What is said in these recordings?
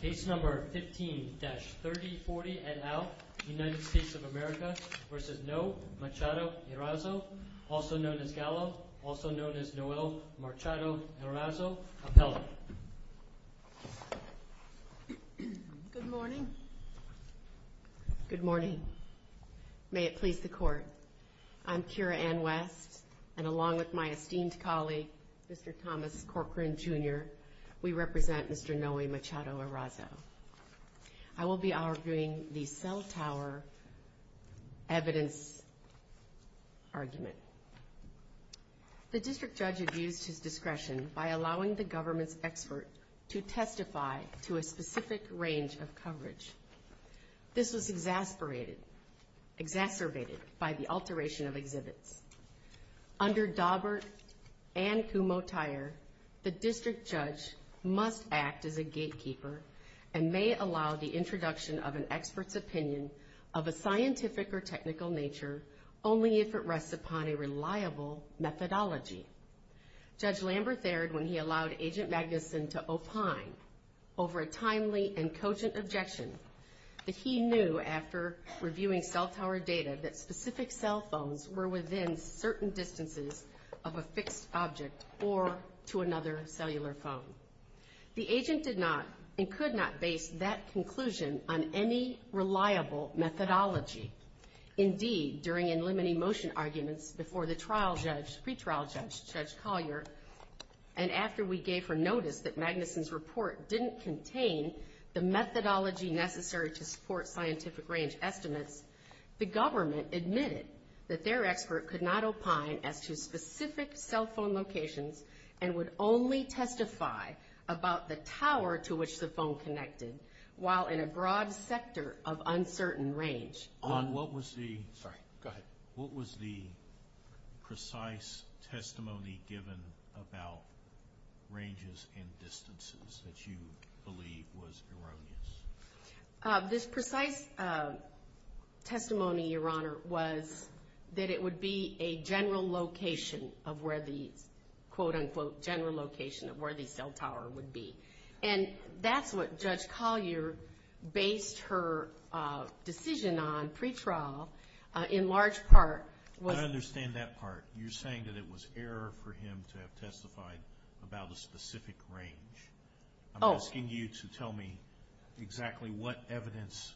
Case No. 15-3040 et al., United States of America v. Noe Machado-Erazo, also known as Gallo, also known as Noel Machado-Erazo, appellate. Good morning. Good morning. May it please the Court, I'm Kira Ann West, and along with my esteemed colleague, Mr. Thomas Corcoran, Jr., we represent Mr. Noe Machado-Erazo. I will be arguing the cell tower evidence argument. The district judge abused his discretion by allowing the government's experts to testify to a specific range of coverage. This was exasperated, exacerbated by the alteration of exhibits. Under Daubert and Humotier, the district judge must act as a gatekeeper and may allow the introduction of an expert's opinion of a scientific or technical nature only if it rests upon a reliable methodology. Judge Lambert dared, when he allowed Agent Magnuson to opine over a timely and cogent objection, that he knew after reviewing cell tower data that specific cell phones were within certain distances of a fixed object or to another cellular phone. The agent did not and could not base that conclusion on any reliable methodology. Indeed, during a limiting motion argument before the trial judge, pretrial judge, Judge Collier, and after we gave her notice that Magnuson's report didn't contain the methodology necessary to support scientific range estimates, the government admitted that their expert could not opine as to specific cell phone locations and would only testify about the tower to which the phone connected while in a broad sector of uncertain range. What was the precise testimony given about ranges and distances that you believe was erroneous? This precise testimony, Your Honor, was that it would be a general location of where the, quote-unquote, general location of where the cell tower would be. And that's what Judge Collier based her decision on, pretrial, in large part. I understand that part. You're saying that it was error for him to have testified about a specific range. I'm asking you to tell me exactly what evidence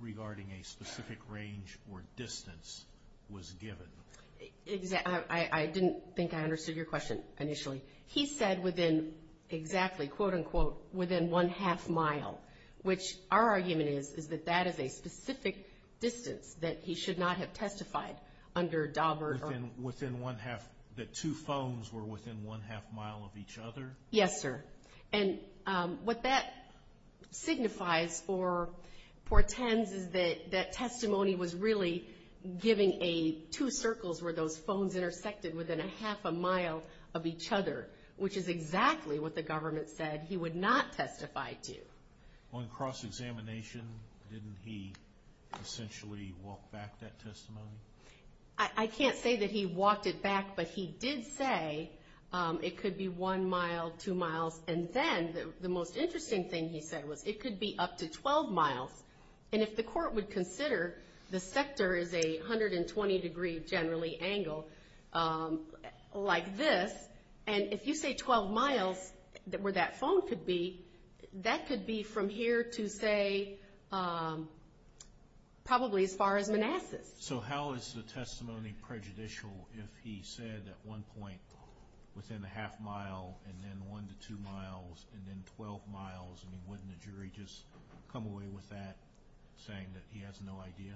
regarding a specific range or distance was given. I didn't think I understood your question initially. He said within, exactly, quote-unquote, within one-half mile, which our argument is that that is a specific distance that he should not have testified under Daubert or... Within one-half, that two phones were within one-half mile of each other? Yes, sir. And what that signifies for Tenz is that that testimony was really giving a two circles where those phones intersected within a half a mile of each other, which is exactly what the government said he would not testify to. On cross-examination, didn't he essentially walk back that testimony? I can't say that he walked it back, but he did say it could be one mile, two miles, and then the most interesting thing he said was it could be up to 12 miles. And if the court would consider the sector is a 120 degree, generally, angle like this, and if you say 12 miles where that phone could be, that could be from here to, say, probably as far as Manassas. So how is the testimony prejudicial if he said at one point within a half mile, and then one to two miles, and then 12 miles, and wouldn't the jury just come away with that, saying that he has no idea?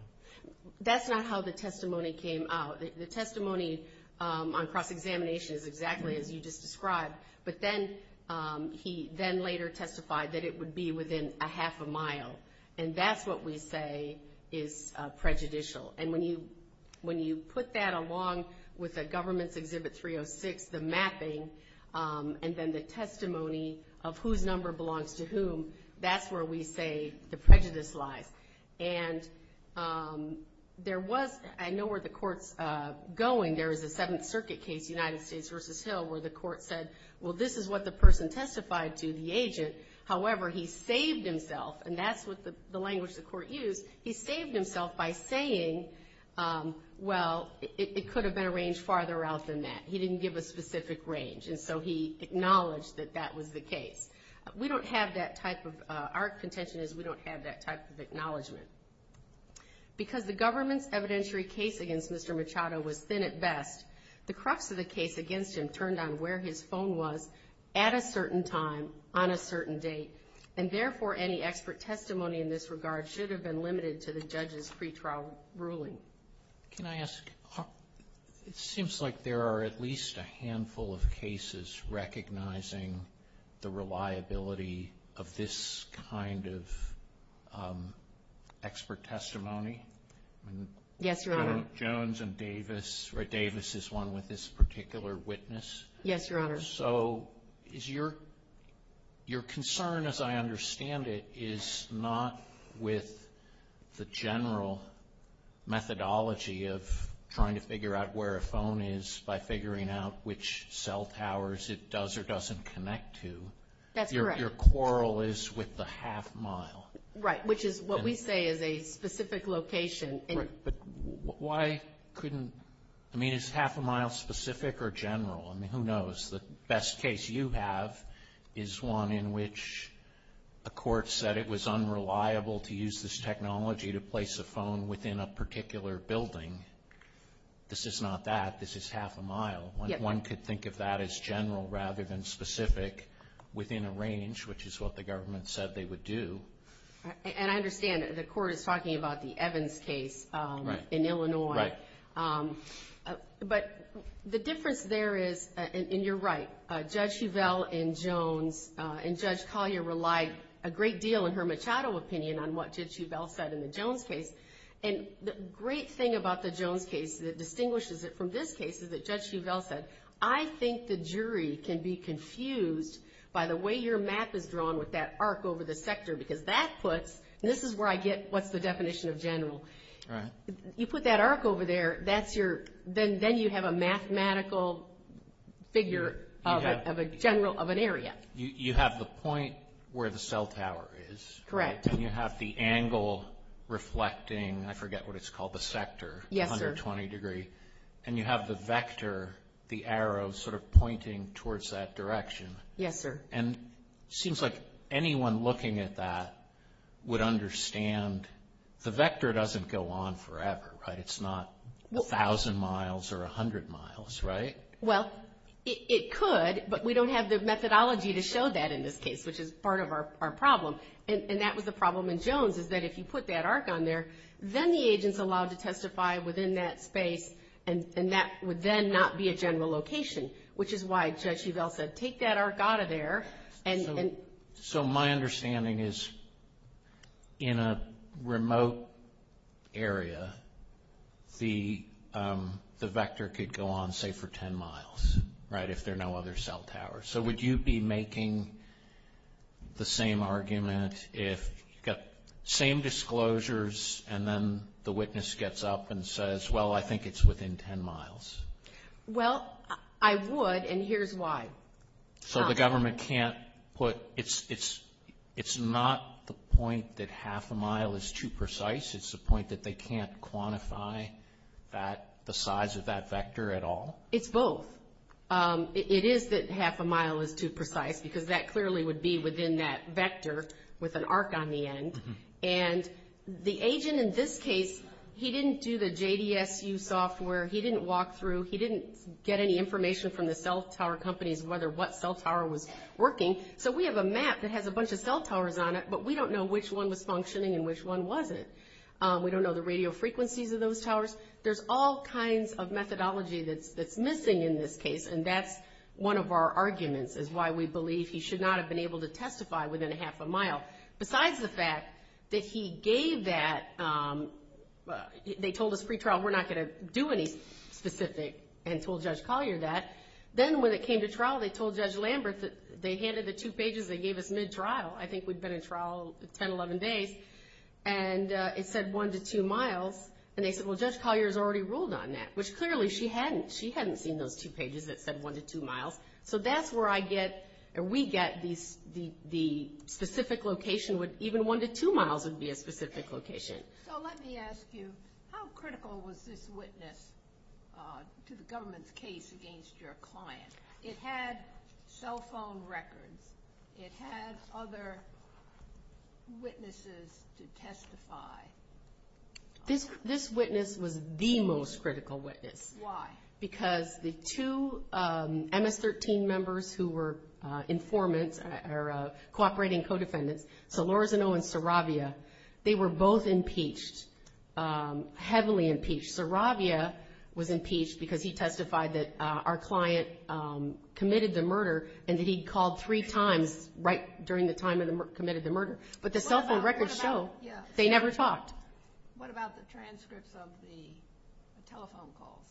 That's not how the testimony came out. The testimony on cross-examination is exactly as you just described, but then he then later testified that it would be within a half a mile. And that's what we say is prejudicial. And when you put that along with a government's Exhibit 306, the mapping, and then the testimony of whose number belongs to whom, that's where we say the prejudice lies. And there was – I know where the court's going. There is a Seventh Circuit case, United States v. Hill, where the court said, well, this is what the person testified to, the agent. However, he saved himself, and that's the language the court used. He saved himself by saying, well, it could have been a range farther out than that. He didn't give a specific range, and so he acknowledged that that was the case. We don't have that type of – our contention is we don't have that type of acknowledgment. Because the government's evidentiary case against Mr. Machado was thin at best, the crux of the case against him turned out where his phone was at a certain time on a certain date. And therefore, any expert testimony in this regard should have been limited to the judge's pretrial ruling. Can I ask – it seems like there are at least a handful of cases recognizing the reliability of this kind of expert testimony. Yes, Your Honor. Jones and Davis – or Davis is one with this particular witness. Yes, Your Honor. So your concern, as I understand it, is not with the general methodology of trying to figure out where a phone is by figuring out which cell towers it does or doesn't connect to. That's correct. Your quarrel is with the half mile. Right, which is what we say is a specific location. Why couldn't – I mean, is half a mile specific or general? I mean, who knows? The best case you have is one in which a court said it was unreliable to use this technology to place a phone within a particular building. This is not that. This is half a mile. One could think of that as general rather than specific within a range, which is what the government said they would do. And I understand that the court is talking about the Evans case in Illinois. Right. But the difference there is – and you're right. Judge Huvel and Jones and Judge Collier relied a great deal in her Machado opinion on what Judge Huvel said in the Jones case. And the great thing about the Jones case that distinguishes it from this case is that Judge Huvel said, I think the jury can be confused by the way your map is drawn with that arc over the sector. Because that puts – and this is where I get what's the definition of general. Right. You put that arc over there, that's your – then you have a mathematical figure of a general – of an area. You have the point where the cell tower is. Correct. And you have the angle reflecting – I forget what it's called – the sector. Yes, sir. And you have the vector, the arrow, sort of pointing towards that direction. Yes, sir. And it seems like anyone looking at that would understand the vector doesn't go on forever, right? It's not 1,000 miles or 100 miles, right? Well, it could, but we don't have the methodology to show that in this case, which is part of our problem. And that was the problem in Jones, is that if you put that arc on there, then the agent's allowed to testify within that space, and that would then not be a general location, which is why Judge Huvel said take that arc out of there and – So my understanding is in a remote area, the vector could go on, say, for 10 miles, right, if there are no other cell towers. So would you be making the same argument if – same disclosures, and then the witness gets up and says, well, I think it's within 10 miles? Well, I would, and here's why. So the government can't put – it's not the point that half a mile is too precise. It's the point that they can't quantify the size of that vector at all? It's both. It is that half a mile is too precise, because that clearly would be within that vector with an arc on the end. And the agent in this case, he didn't do the JDSU software. He didn't walk through. He didn't get any information from the cell tower companies as to what cell tower was working. So we have a map that has a bunch of cell towers on it, but we don't know which one was functioning and which one wasn't. We don't know the radio frequencies of those towers. There's all kinds of methodology that's missing in this case, and that's one of our arguments is why we believe he should not have been able to testify within a half a mile. Besides the fact that he gave that – they told us pre-trial, we're not going to do any specific, and told Judge Collier that. Then when it came to trial, they told Judge Lambert that they handed the two pages they gave us mid-trial. I think we'd been in trial 10, 11 days, and it said one to two miles. And they said, well, Judge Collier's already ruled on that, which clearly she hadn't. She hadn't seen those two pages that said one to two miles. So that's where I get – or we get the specific location, even one to two miles would be a specific location. So let me ask you, how critical was this witness to the government's case against your client? It had cell phone records. It had other witnesses to testify. This witness was the most critical witness. Why? Because the two MS-13 members who were informants or cooperating co-defendants, Solorzano and Saravia, they were both impeached, heavily impeached. Saravia was impeached because he testified that our client committed the murder and that he called three times right during the time he committed the murder. But the cell phone records show they never talked. What about the transcripts of the telephone call?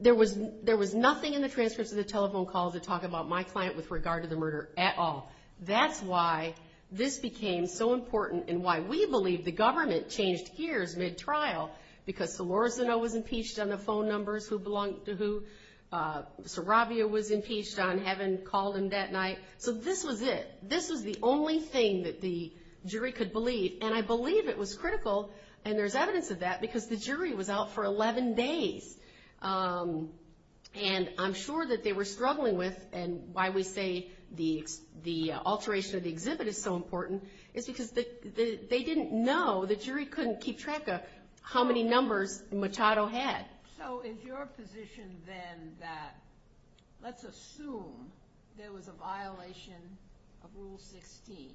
There was nothing in the transcripts of the telephone call to talk about my client with regard to the murder at all. That's why this became so important and why we believe the government changed gears mid-trial because Solorzano was impeached on the phone numbers who belonged to who. Saravia was impeached on having called him that night. So this was it. This was the only thing that the jury could believe, and I believe it was critical, and there's evidence of that because the jury was out for 11 days. And I'm sure that they were struggling with, and why we say the alteration of the exhibit is so important, is because they didn't know, the jury couldn't keep track of how many numbers Machado had. So is your position then that let's assume there was a violation of Rule 16,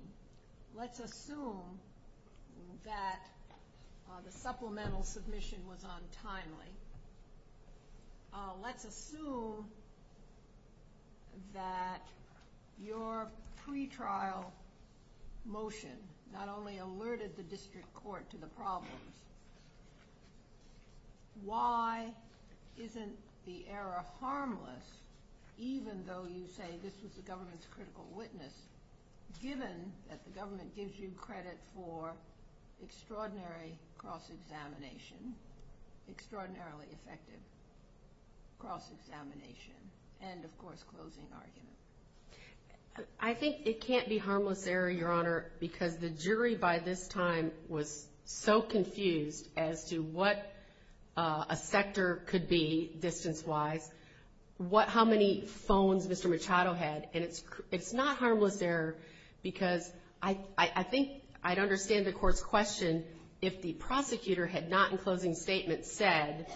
let's assume that the supplemental submission was untimely, let's assume that your pretrial motion not only alerted the district court to the problem, why isn't the error harmless even though you say this was the government's critical witness, given that the government gives you credit for extraordinary cross-examination, extraordinarily effective cross-examination, and, of course, closing arguments? I think it can't be harmless error, Your Honor, because the jury by this time was so confused as to what a sector could be distance-wise, how many phones Mr. Machado had, and it's not harmless error because I think I'd understand the court's question if the prosecutor had not, in closing statements, said,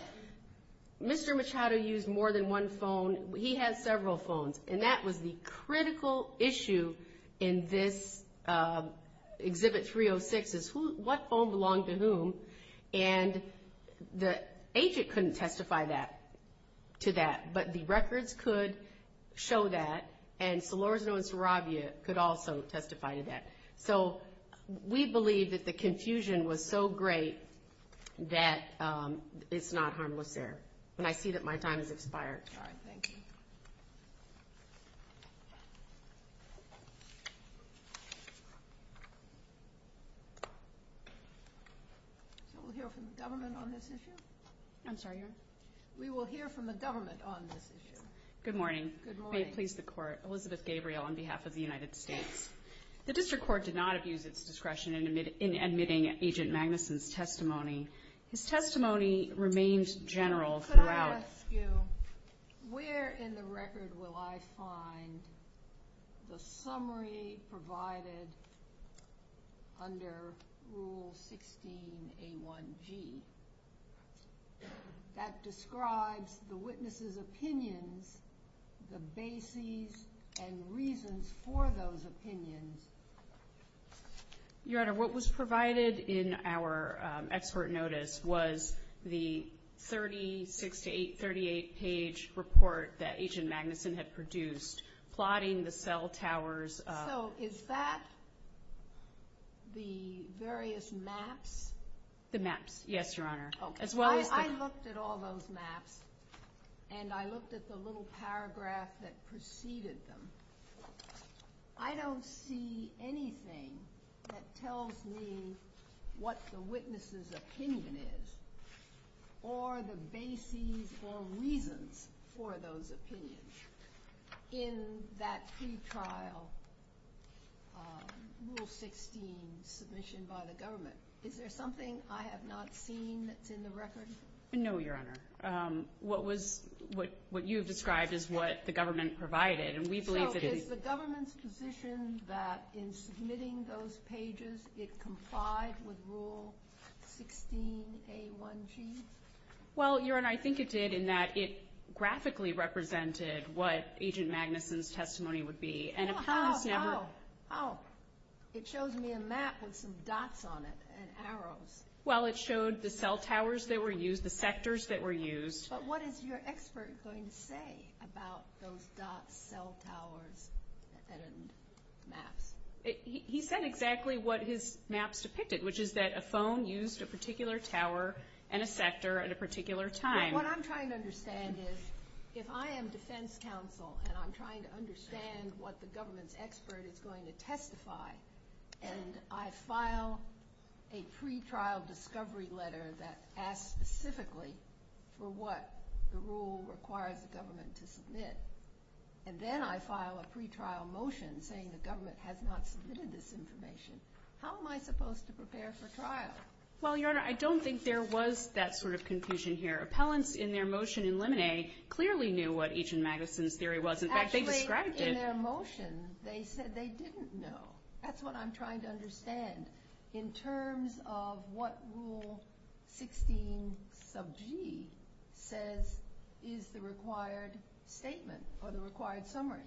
Mr. Machado used more than one phone, he had several phones. And that was the critical issue in this Exhibit 306 is what phone belonged to whom, and the agent couldn't testify to that, but the records could show that, and Salorzo and Sarabia could also testify to that. So we believe that the confusion was so great that it's not harmless error. And I see that my time has expired. All right. Thank you. We'll hear from the government on this issue? I'm sorry, Your Honor? We will hear from the government on this issue. Good morning. Good morning. May it please the Court, Elizabeth Gabriel on behalf of the United States. The district court did not abuse its discretion in admitting Agent Magnuson's testimony. His testimony remains general throughout. Could I ask you where in the record will I find the summary provided under Rule 16A1G that describes the witness's opinion, the basis and reason for those opinions? Your Honor, what was provided in our expert notice was the 36 to 38 page report that Agent Magnuson had produced plotting the cell towers. So is that the various maps? The maps. Yes, Your Honor. I looked at all those maps, and I looked at the little paragraph that preceded them. I don't see anything that tells me what the witness's opinion is or the basis or reasons for those opinions in that pre-trial Rule 16 submission by the government. Is there something I have not seen in the record? No, Your Honor. What you described is what the government provided. So is the government's position that in submitting those pages it complies with Rule 16A1G? Well, Your Honor, I think it did in that it graphically represented what Agent Magnuson's testimony would be. How? How? How? It shows me a map with some dots on it, an arrow. Well, it showed the cell towers that were used, the sectors that were used. But what is your expert going to say about those dots, cell towers, and maps? He said exactly what his maps depicted, which is that a phone used a particular tower and a sector at a particular time. What I'm trying to understand is if I am defense counsel and I'm trying to understand what the government's expert is going to testify, and I file a pre-trial discovery letter that asks specifically for what the rule requires the government to submit, and then I file a pre-trial motion saying the government has not submitted this information, how am I supposed to prepare for trial? Well, Your Honor, I don't think there was that sort of confusion here. The appellants in their motion in Lemonnier clearly knew what Agent Magnuson's theory was. In fact, they described it. Actually, in their motion, they said they didn't know. That's what I'm trying to understand. In terms of what Rule 16 sub G says is the required statement or the required summary.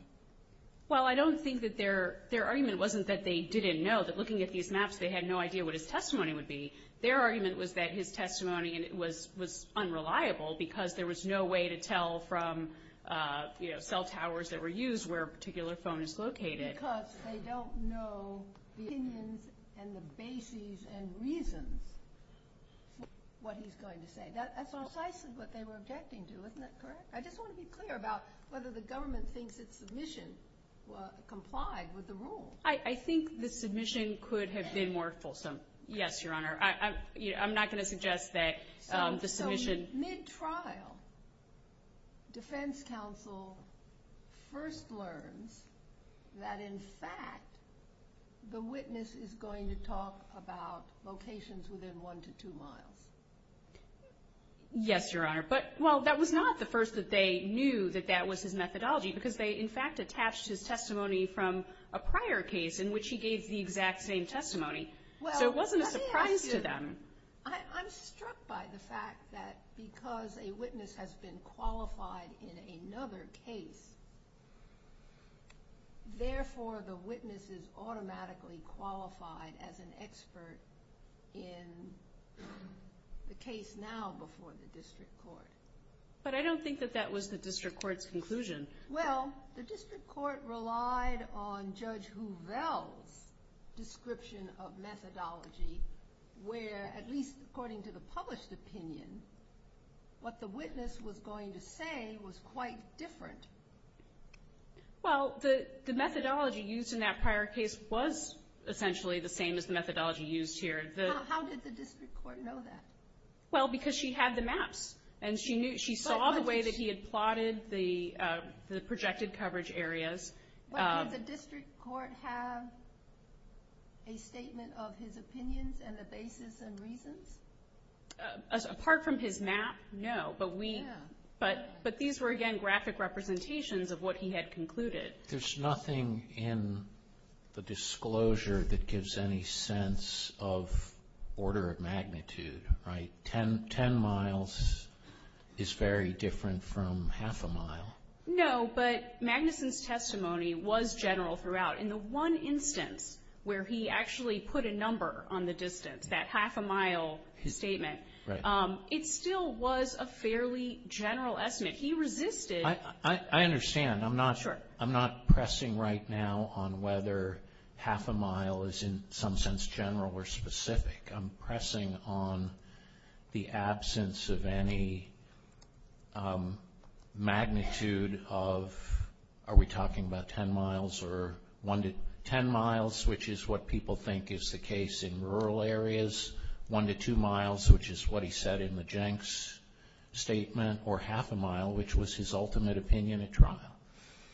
Well, I don't think that their argument wasn't that they didn't know. Looking at these maps, they had no idea what his testimony would be. Their argument was that his testimony was unreliable because there was no way to tell from, you know, cell towers that were used where a particular phone is located. Because they don't know the opinions and the basis and reason what he's going to say. That's all sides of what they were objecting to. Isn't that correct? I just want to be clear about whether the government thinks its submission complied with the rule. I think the submission could have been more fulsome. Yes, Your Honor. I'm not going to suggest that the submission. So, mid-trial, defense counsel first learned that, in fact, the witness is going to talk about locations within one to two miles. Yes, Your Honor. But, well, that was not the first that they knew that that was his methodology because they, in fact, attached his testimony from a prior case in which he gave the exact same testimony. There wasn't a surprise to them. I'm struck by the fact that because a witness has been qualified in another case, therefore the witness is automatically qualified as an expert in the case now before the district court. But I don't think that that was the district court's conclusion. Well, the district court relied on Judge Huvel's description of methodology where, at least according to the published opinion, what the witness was going to say was quite different. Well, the methodology used in that prior case was essentially the same as the methodology used here. How did the district court know that? Well, because she had the maps and she saw the way that he had plotted the projected coverage areas. But did the district court have a statement of his opinions and the basis and reasons? Apart from his map, no. But these were, again, graphic representations of what he had concluded. There's nothing in the disclosure that gives any sense of order of magnitude, right? Ten miles is very different from half a mile. No, but Magnuson's testimony was general throughout. In the one instance where he actually put a number on the distance, that half a mile statement, it still was a fairly general estimate. I understand. I'm not pressing right now on whether half a mile is in some sense general or specific. I'm pressing on the absence of any magnitude of, are we talking about ten miles or one to ten miles, which is what people think is the case in rural areas, one to two miles, which is what he said in the Jenks statement, or half a mile, which was his ultimate opinion at trial.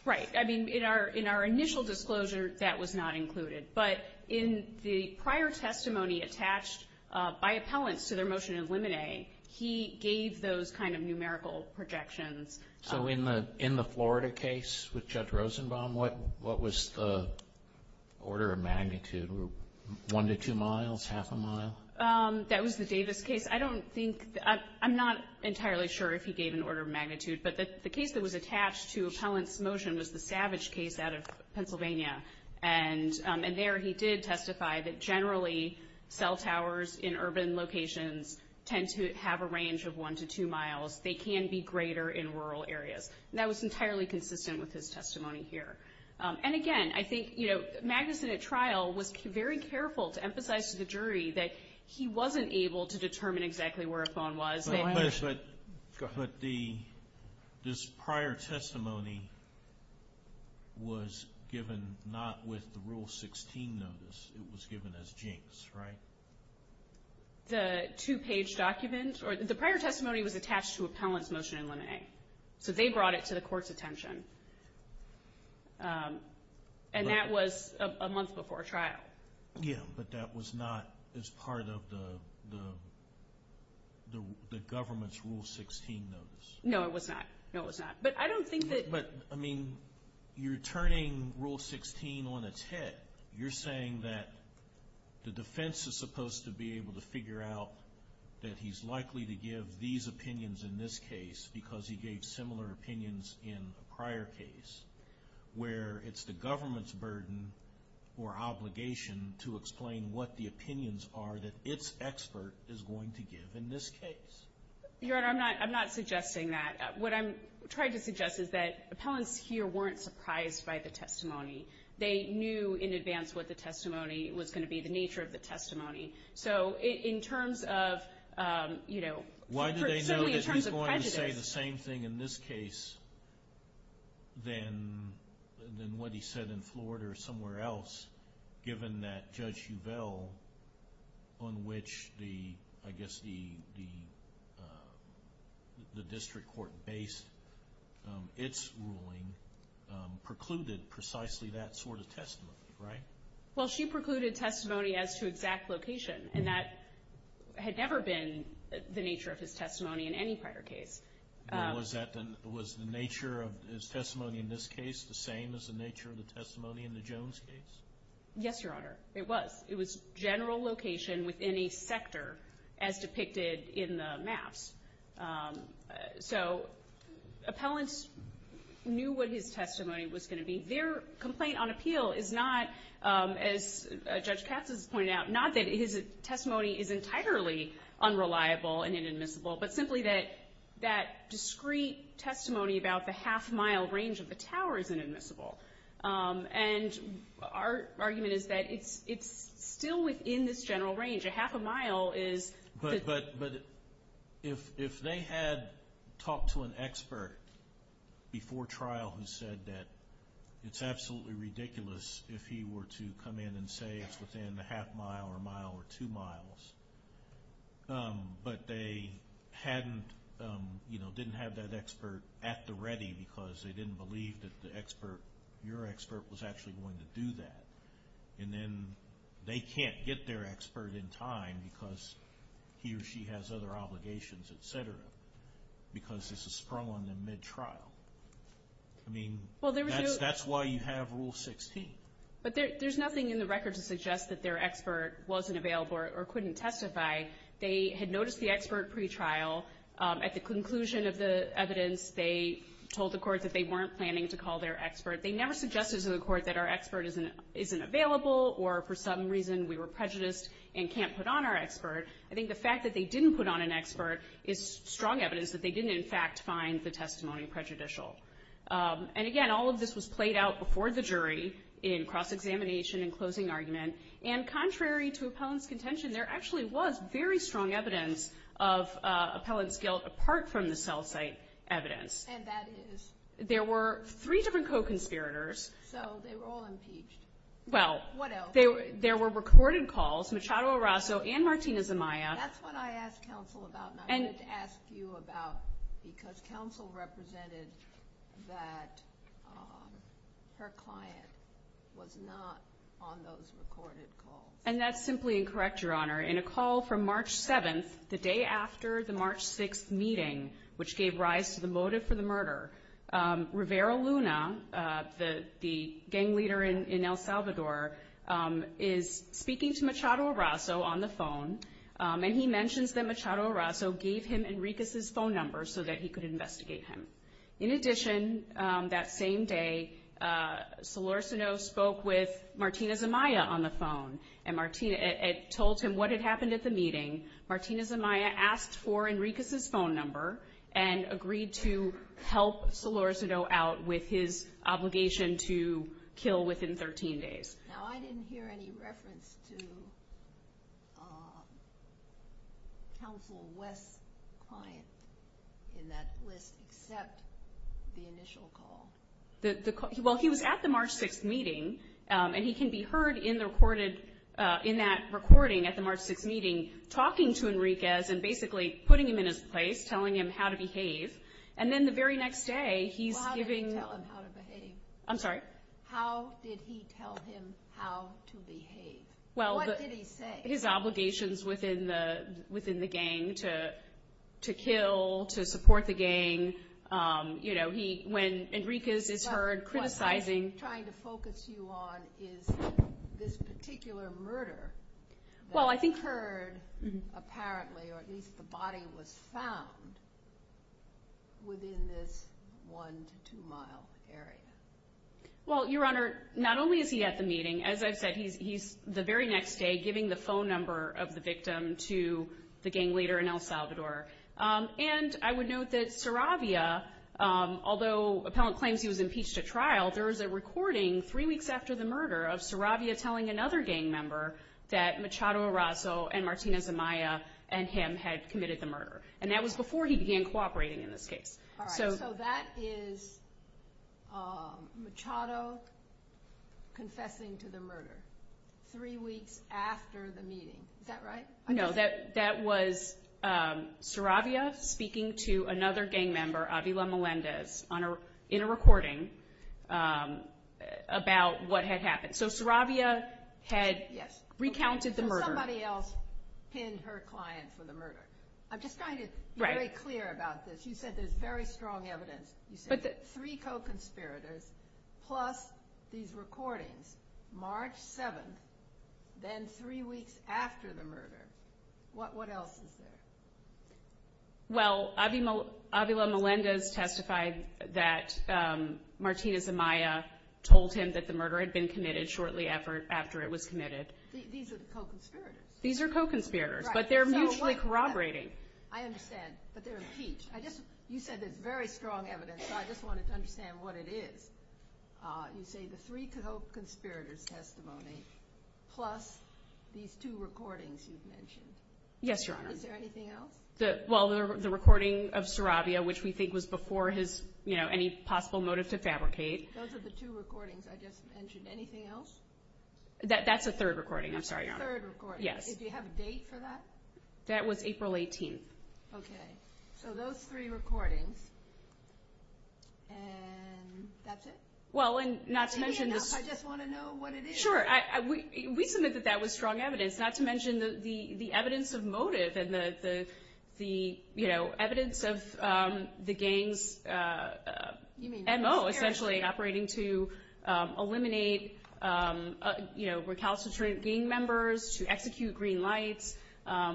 Right. I mean, in our initial disclosure, that was not included. But in the prior testimony attached by appellants to their motion to eliminate, he gave those kind of numerical projections. So in the Florida case with Judge Rosenbaum, what was the order of magnitude, one to two miles, half a mile? That was the Davis case. I don't think, I'm not entirely sure if he gave an order of magnitude, but the case that was attached to appellant's motion was the Savage case out of Pennsylvania. And there he did testify that generally cell towers in urban locations tend to have a range of one to two miles. They can be greater in rural areas. And that was entirely consistent with his testimony here. And, again, I think Magnuson at trial was very careful to emphasize to the jury that he wasn't able to determine exactly where a phone was. But this prior testimony was given not with the Rule 16 notice. It was given as Jenks, right? The two-page document, or the prior testimony was attached to appellant's motion to eliminate. So they brought it to the court's attention. And that was a month before trial. Yeah, but that was not as part of the government's Rule 16 notice. No, it was not. No, it was not. But I don't think that – But, I mean, you're turning Rule 16 on its head. You're saying that the defense is supposed to be able to figure out that he's likely to give these opinions in this case because he gave similar opinions in the prior case, where it's the government's burden or obligation to explain what the opinions are that its expert is going to give in this case. Your Honor, I'm not suggesting that. What I'm trying to suggest is that appellants here weren't surprised by the testimony. They knew in advance what the testimony was going to be, the nature of the testimony. So in terms of, you know, in terms of prejudice – Why do they know that he's going to say the same thing in this case than what he said in Florida or somewhere else, given that Judge Uvell, on which I guess the district court based its ruling, precluded precisely that sort of testimony, right? Well, she precluded testimony as to exact location, and that had never been the nature of his testimony in any prior case. Was the nature of his testimony in this case the same as the nature of the testimony in the Jones case? Yes, Your Honor, it was. It was general location within a sector as depicted in the maps. So appellants knew what his testimony was going to be. Their complaint on appeal is not, as Judge Katz has pointed out, not that his testimony is entirely unreliable and inadmissible, but simply that that discrete testimony about the half-mile range of the tower is inadmissible. And our argument is that it's still within this general range. A half a mile is – But if they had talked to an expert before trial who said that it's absolutely ridiculous if he were to come in and say it's within a half-mile, a mile, or two miles, but they hadn't, you know, didn't have that expert at the ready because they didn't believe that the expert, your expert, was actually going to do that, and then they can't get their expert in time because he or she has other obligations, et cetera, because this is prolonged and mid-trial. I mean, that's why you have Rule 16. But there's nothing in the record to suggest that their expert wasn't available or couldn't testify. They had noticed the expert pretrial. At the conclusion of the evidence, they told the court that they weren't planning to call their expert. They never suggested to the court that our expert isn't available or for some reason we were prejudiced and can't put on our expert. I think the fact that they didn't put on an expert is strong evidence that they didn't, in fact, find the testimony prejudicial. And, again, all of this was played out before the jury in cross-examination and closing argument, and contrary to appellant's contention, there actually was very strong evidence of appellant's guilt apart from the cell site evidence. And that is? There were three different co-conspirators. So they were all impeached. Well, there were recorded calls, Machado Arraso and Martina Zamaya. That's what I asked counsel about and I didn't ask you about because counsel represented that her client was not on those recorded calls. And that's simply incorrect, Your Honor. In a call from March 7th, the day after the March 6th meeting, which gave rise to the motive for the murder, Rivera Luna, the gang leader in El Salvador, is speaking to Machado Arraso on the phone, and he mentions that Machado Arraso gave him Enriquez's phone number so that he could investigate him. In addition, that same day, Solorzano spoke with Martina Zamaya on the phone and told him what had happened at the meeting. Martina Zamaya asked for Enriquez's phone number and agreed to help Solorzano out with his obligation to kill within 13 days. Now, I didn't hear any reference to counsel West's client in that list except the initial call. Well, he was at the March 6th meeting, and he can be heard in that recording at the March 6th meeting talking to Enriquez and basically putting him in his place, telling him how to behave. And then the very next day, he's giving – Well, how did he tell him how to behave? I'm sorry? How did he tell him how to behave? What did he say? Well, his obligations within the gang to kill, to support the gang. When Enriquez is heard criticizing – What I'm trying to focus you on is this particular murder that was heard, apparently, or at least the body was found within this one to two-mile area. Well, Your Honor, not only is he at the meeting, as I said, he's the very next day giving the phone number of the victim to the gang leader in El Salvador. And I would note that Saravia, although appellant claims he was impeached at trial, there is a recording three weeks after the murder of Saravia telling another gang member that Machado Arrazo and Martina Zamaya and him had committed the murder. And that was before he began cooperating in this case. All right. So that is Machado confessing to the murder three weeks after the meeting. Is that right? No, that was Saravia speaking to another gang member, Avila Melendez, in a recording about what had happened. So Saravia had recounted the murder. Somebody else pinned her client for the murder. I'm just trying to be very clear about this. You said there's very strong evidence. Three co-conspirators plus these recordings, March 7th, then three weeks after the murder. What else is there? Well, Avila Melendez testified that Martina Zamaya told him that the murder had been committed shortly after it was committed. These are co-conspirators. These are co-conspirators, but they're mutually corroborating. I understand, but they're impeached. You said there's very strong evidence, so I just wanted to understand what it is. You say the three co-conspirators testimony plus these two recordings you've mentioned. Yes, Your Honor. Is there anything else? Well, the recording of Saravia, which we think was before any possible motive to fabricate. Those are the two recordings I just mentioned. Anything else? That's the third recording. I'm sorry, Your Honor. The third recording. Yes. Do you have a date for that? That was April 18th. Okay. So those three recordings, and that's it? Well, and not to mention the – Anything else? I just want to know what it is. Sure. We submit that that was strong evidence, not to mention the evidence of motive and the evidence of the gang's M.O. essentially operating to eliminate recalcitrant gang members, to execute Green Light.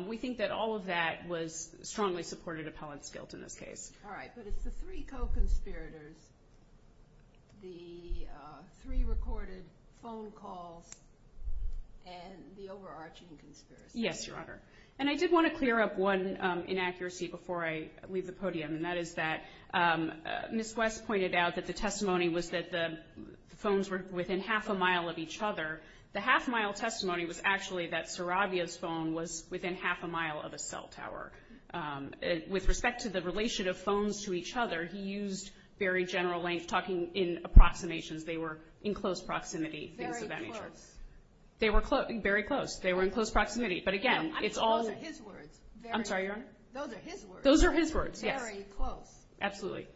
We think that all of that was strongly supported appellate skills in this case. All right. So it's the three co-conspirators, the three recorded phone calls, and the overarching conspiracy. Yes, Your Honor. And I did want to clear up one inaccuracy before I leave the podium, and that is that Ms. West pointed out that the testimony was that the phones were within half a mile of each other. The half-mile testimony was actually that Saravia's phone was within half a mile of the cell tower. With respect to the relation of phones to each other, he used very general length talking in approximations. They were in close proximity. Very close. Very close. They were in close proximity. But, again, it's all – Those are his words. I'm sorry, Your Honor? Those are his words. Those are his words, yes. Very close. Absolutely.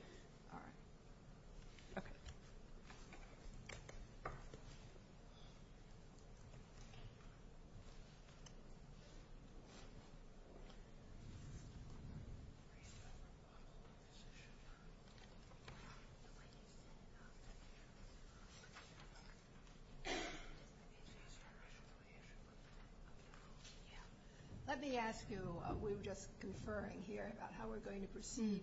All right. Okay. Let me ask you – we were just conferring here about how we're going to proceed.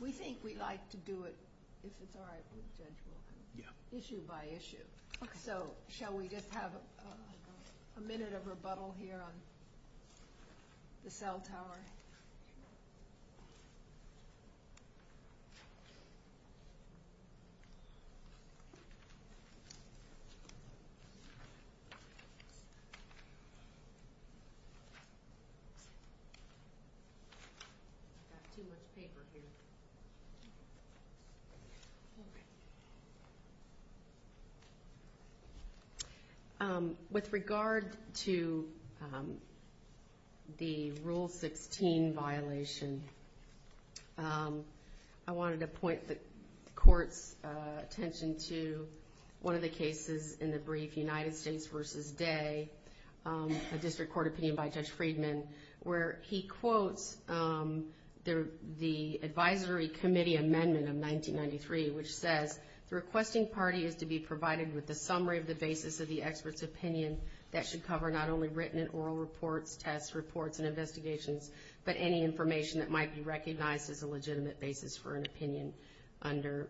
We think we'd like to do it, if it's all right with you gentlemen, issue by issue. Okay. So shall we just have a minute of rebuttal here on the cell tower? All right. Let's see what the paper is. Okay. With regard to the Rule 16 violation, I wanted to point the Court's attention to one of the cases in the brief, United States v. Day, a district court opinion by Judge Friedman, where he quotes the advisory committee amendment of 1993, which says, requesting parties to be provided with a summary of the basis of the expert's opinion that should cover not only written and oral reports, test reports, and investigations, but any information that might be recognized as a legitimate basis for an opinion under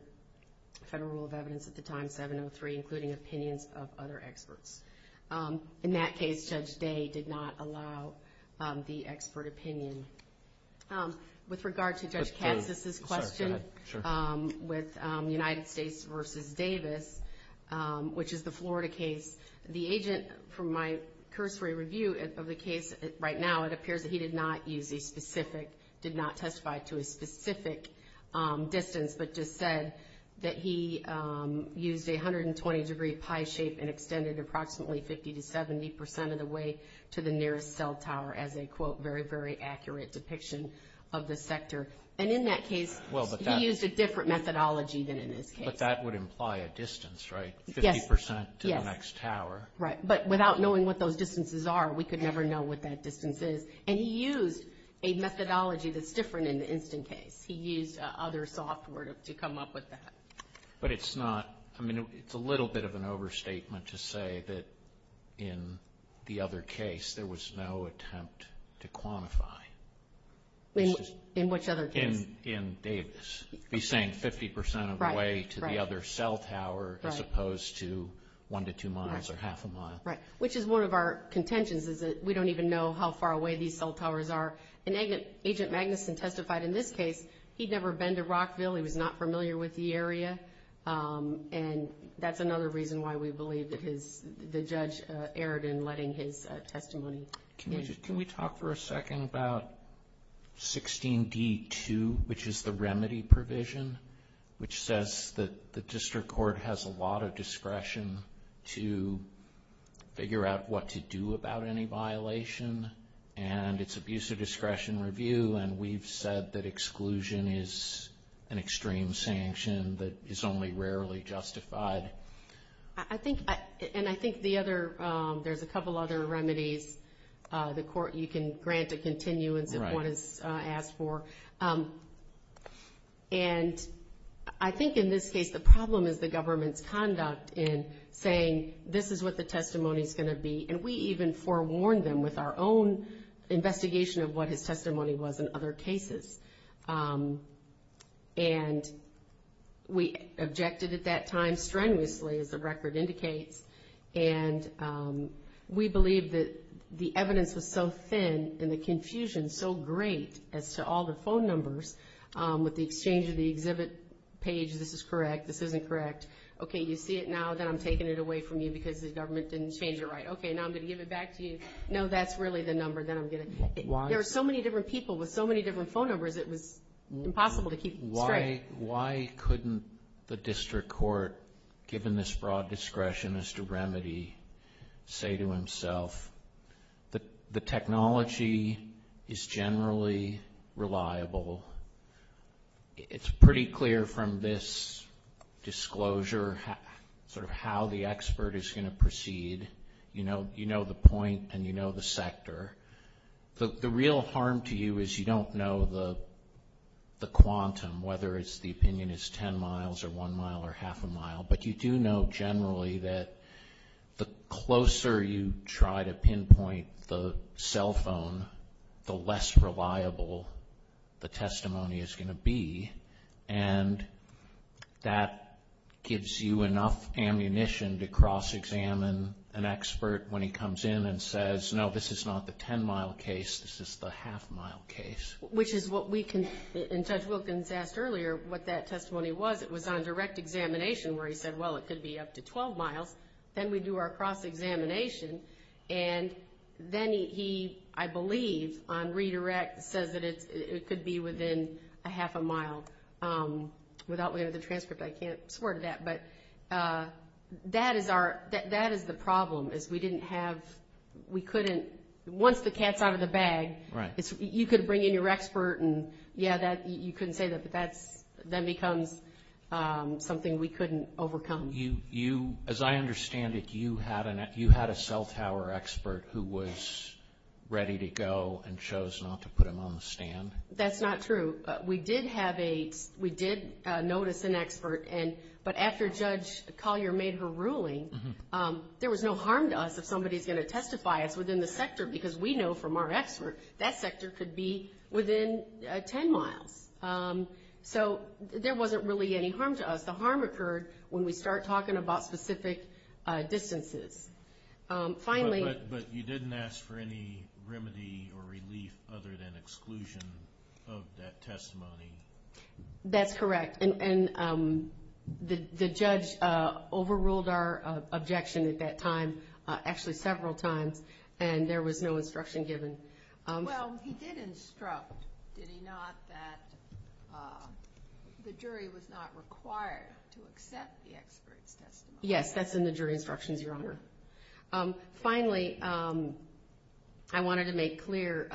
federal rule of evidence at the time, 703, including opinions of other experts. In that case, Judge Day did not allow the expert opinion. With regard to Judge Kessler's question with United States v. Davis, which is the Florida case, the agent from my cursory review of the case right now, it appears that he did not use a specific – 50 to 70 percent of the way to the nearest cell tower as a, quote, very, very accurate depiction of the sector. And in that case, he used a different methodology than in this case. But that would imply a distance, right? Yes. 50 percent to the next tower. Right. But without knowing what those distances are, we could never know what that distance is. And he used a methodology that's different in the instant case. He used other software to come up with that. But it's not – I mean, it's a little bit of an overstatement to say that in the other case there was no attempt to quantify. In which other case? In Davis. He's saying 50 percent of the way to the other cell tower as opposed to one to two miles or half a mile. Right. Which is one of our contentions is that we don't even know how far away these cell towers are. And Agent Magnuson testified in this case he'd never been to Rockville. He was not familiar with the area. And that's another reason why we believe that the judge erred in letting his testimony. Can we talk for a second about 16D2, which is the remedy provision? Which says that the district court has a lot of discretion to figure out what to do about any violation. And it's abuse of discretion review. And we've said that exclusion is an extreme sanction that is only rarely justified. I think – and I think the other – there's a couple other remedies the court – you can grant a continuance if one is asked for. And I think in this case the problem is the government's conduct in saying this is what the testimony is going to be. And we even forewarned them with our own investigation of what his testimony was in other cases. And we objected at that time strenuously, as the record indicates. And we believe that the evidence was so thin and the confusion so great as to all the phone numbers with the exchange of the exhibit page. This is correct. This isn't correct. Okay, you see it now that I'm taking it away from you because the government didn't change it right. Okay, now I'm going to give it back to you. No, that's really the number that I'm getting. Why? There are so many different people with so many different phone numbers it was impossible to keep straight. Why couldn't the district court, given this broad discretion as the remedy, say to himself, the technology is generally reliable. It's pretty clear from this disclosure sort of how the expert is going to proceed. You know the point and you know the sector. The real harm to you is you don't know the quantum, whether the opinion is ten miles or one mile or half a mile. But you do know generally that the closer you try to pinpoint the cell phone, the less reliable the testimony is going to be. And that gives you enough ammunition to cross-examine an expert when he comes in and says, no, this is not the ten-mile case. This is the half-mile case. Which is what we can – and Judge Wilkins asked earlier what that testimony was. It was on direct examination where he said, well, it could be up to 12 miles. Then we do our cross-examination. And then he, I believe, on redirect says that it could be within a half a mile without the transcript. I can't swear to that. But that is our – that is the problem is we didn't have – we couldn't – once the cat's out of the bag, you could bring in your expert and, yeah, you couldn't say that. That becomes something we couldn't overcome. You – as I understand it, you had a cell tower expert who was ready to go and chose not to put him on the stand. That's not true. We did have a – we did notice an expert. But after Judge Collier made her ruling, there was no harm to us if somebody is going to testify within the sector because we know from our experts that sector could be within ten miles. So there wasn't really any harm to us. The harm occurred when we start talking about specific distances. Finally – But you didn't ask for any remedy or relief other than exclusion of that testimony. That's correct. And the judge overruled our objection at that time, actually several times, and there was no instruction given. Well, he did instruct, did he not, that the jury was not required to accept the expert's testimony. Yes, that's in the jury instructions, Your Honor. Finally, I wanted to make clear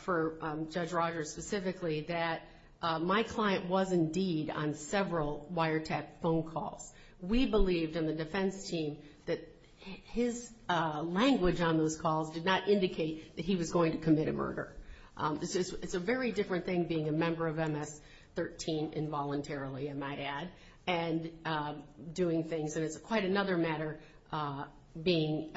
for Judge Rogers specifically that my client was indeed on several wiretap phone calls. We believed in the defense team that his language on those calls did not indicate that he was going to commit a murder. It's a very different thing being a member of MS-13 involuntarily, I might add, and doing things. There's quite another matter being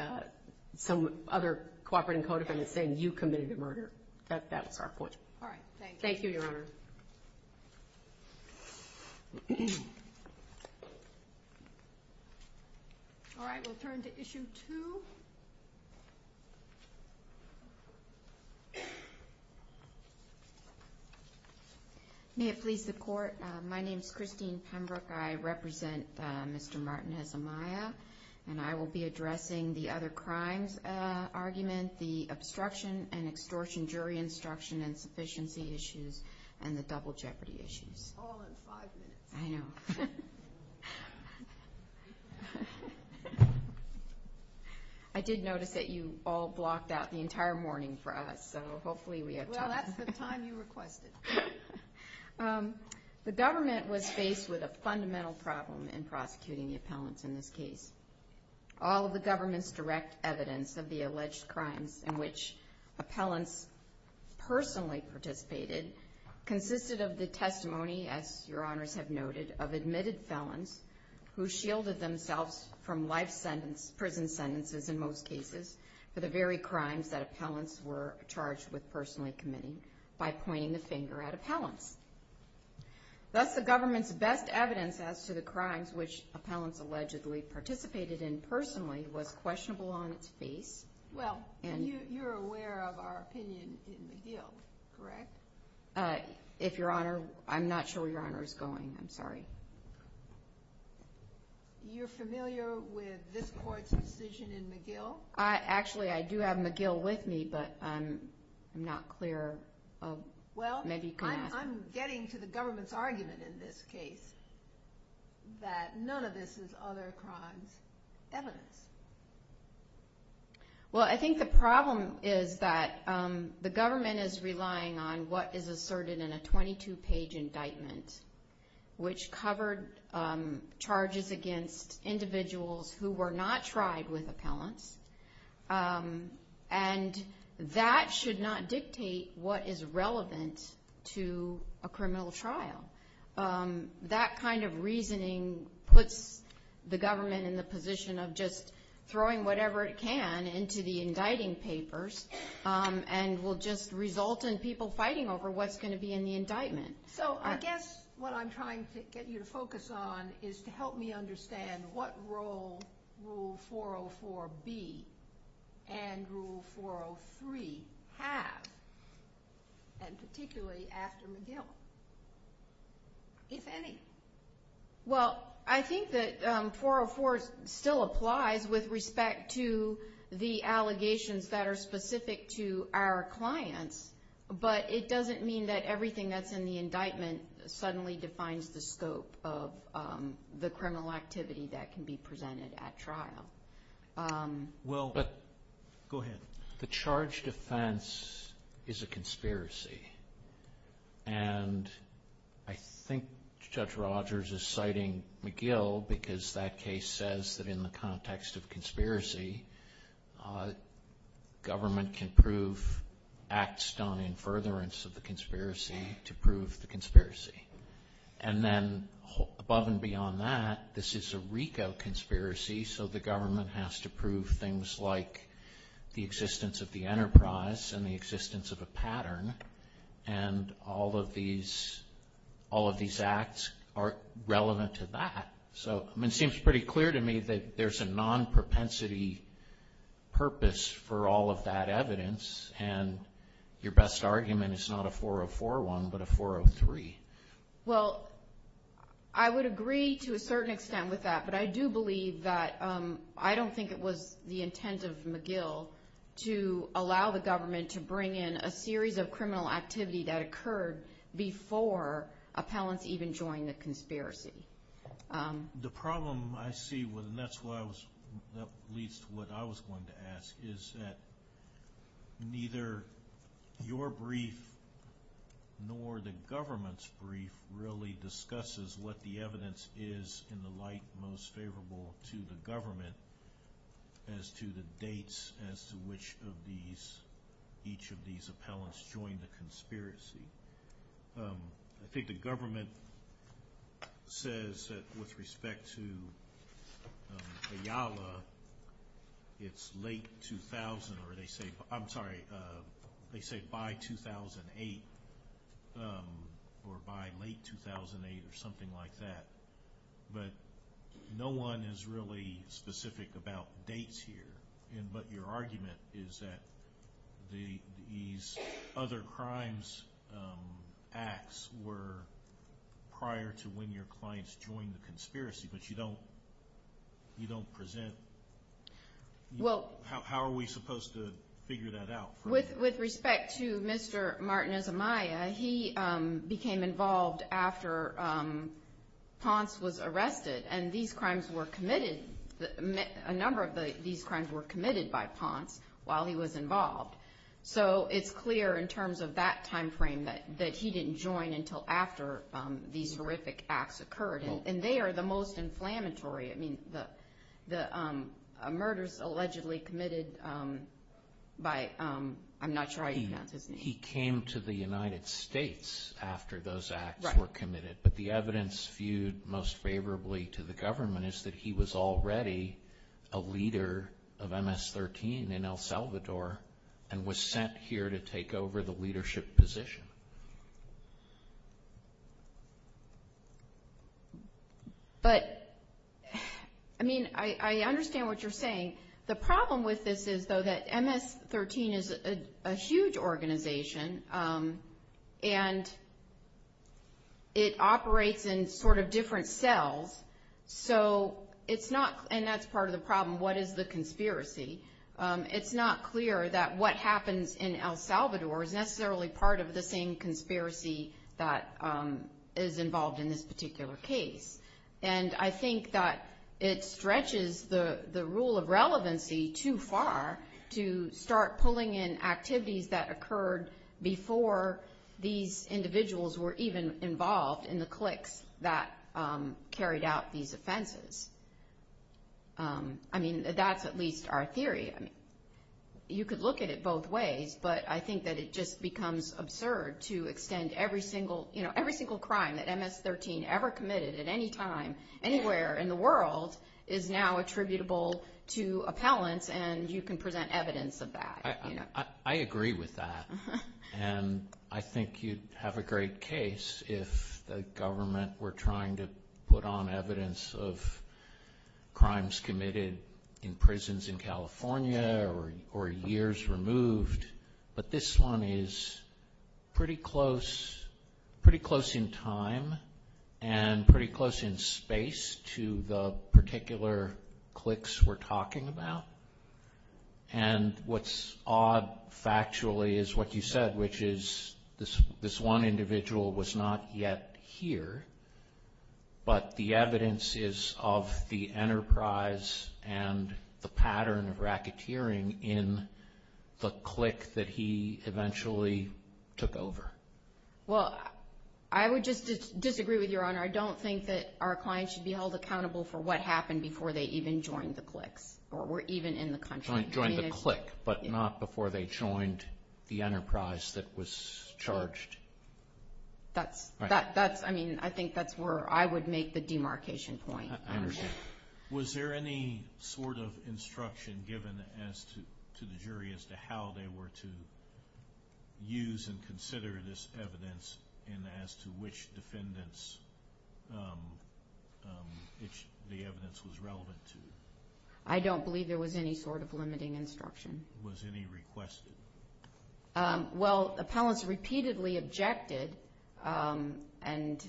some other cooperating codifier saying you committed a murder. That's our point. All right, thank you. Thank you, Your Honor. All right, we'll turn to Issue 2. May it please the Court, my name is Christine Pembroke. I represent Mr. Martinez Amaya, and I will be addressing the other crimes arguments, the obstruction and extortion jury instruction and sufficiency issues, and the double jeopardy issues. Hold on five minutes. I know. I did notice that you all blocked out the entire morning for us, so hopefully we have time. Well, that's the time you requested. The government was faced with a fundamental problem in prosecuting the appellants in this case. All of the government's direct evidence of the alleged crimes in which appellants personally participated consisted of the testimony, as Your Honors have noted, of admitted felons who shielded themselves from life sentence, prison sentences in most cases, for the very crimes that appellants were charged with personally committing by pointing the finger at appellants. Thus, the government's best evidence as to the crimes which appellants allegedly participated in personally was questionable on its face. Well, you're aware of our opinion in the field, correct? If Your Honor – I'm not sure Your Honor is going. I'm sorry. You're familiar with this Court's decision in McGill? Actually, I do have McGill with me, but I'm not clear. Well, I'm getting to the government's argument in this case that none of this is other crimes' evidence. Well, I think the problem is that the government is relying on what is asserted in a 22-page indictment, which covered charges against individuals who were not tried with appellants. And that should not dictate what is relevant to a criminal trial. That kind of reasoning puts the government in the position of just throwing whatever it can into the indicting papers and will just result in people fighting over what's going to be in the indictment. So, I guess what I'm trying to get you to focus on is to help me understand what role Rule 404B and Rule 403 have, and particularly after McGill, if any. Well, I think that 404 still applies with respect to the allegations that are specific to our clients, but it doesn't mean that everything that's in the indictment suddenly defines the scope of the criminal activity that can be presented at trial. Well, but... Go ahead. The charged offense is a conspiracy. And I think Judge Rogers is citing McGill because that case says that in the context of conspiracy, government can prove acts done in furtherance of the conspiracy to prove the conspiracy. And then, above and beyond that, this is a RICO conspiracy, so the government has to prove things like the existence of the enterprise and the existence of a pattern, and all of these acts are relevant to that. So, it seems pretty clear to me that there's a non-propensity purpose for all of that evidence, and your best argument is not a 404 one, but a 403. Well, I would agree to a certain extent with that, but I do believe that I don't think it was the intent of McGill to allow the government to bring in a series of criminal activity that occurred before appellants even joined the conspiracy. The problem I see, and that's at least what I was going to ask, is that neither your brief nor the government's brief really discusses what the evidence is in the light most favorable to the government as to the dates as to which of each of these appellants joined the conspiracy. I think the government says that with respect to Ayala, it's late 2000, or they say, I'm sorry, they say by 2008, or by late 2008, or something like that. But no one is really specific about dates here, and your argument is that these other crimes, acts, were prior to when your clients joined the conspiracy, but you don't present, how are we supposed to figure that out? With respect to Mr. Martinez Amaya, he became involved after Ponce was arrested, and these crimes were committed, a number of these crimes were committed by Ponce while he was involved. So it's clear in terms of that timeframe that he didn't join until after these horrific acts occurred, and they are the most inflammatory, I mean, the murders allegedly committed by, I'm not sure how you count this name. He came to the United States after those acts were committed, but the evidence viewed most favorably to the government is that he was already a leader of MS-13 in El Salvador, and was sent here to take over the leadership position. But, I mean, I understand what you're saying. The problem with this is, though, that MS-13 is a huge organization, and it operates in sort of different cells, so it's not, and that's part of the problem, what is the conspiracy? It's not clear that what happened in El Salvador is necessarily part of the same conspiracy that is involved in this particular case, and I think that it stretches the rule of relevancy too far to start pulling in activities that occurred before these individuals were even involved in the cliques that carried out these offenses. I mean, that's at least our theory. You could look at it both ways, but I think that it just becomes absurd to extend every single, you know, every single crime that MS-13 ever committed at any time, anywhere in the world, is now attributable to appellants, and you can present evidence of that. I agree with that, and I think you'd have a great case if the government were trying to put on evidence of crimes committed in prisons in California or years removed, but this one is pretty close in time and pretty close in space to the particular cliques we're talking about, and what's odd factually is what you said, which is this one individual was not yet here, but the evidence is of the enterprise and the pattern of racketeering in the clique that he eventually took over. Well, I would just disagree with you, Your Honor. I don't think that our clients should be held accountable for what happened before they even joined the clique or were even in the country. Joined the clique, but not before they joined the enterprise that was charged. That's, I mean, I think that's where I would make the demarcation point. I understand. Was there any sort of instruction given to the jury as to how they were to use and consider this evidence and as to which defendants the evidence was relevant to? I don't believe there was any sort of limiting instruction. Was any requested? Well, appellants repeatedly objected, and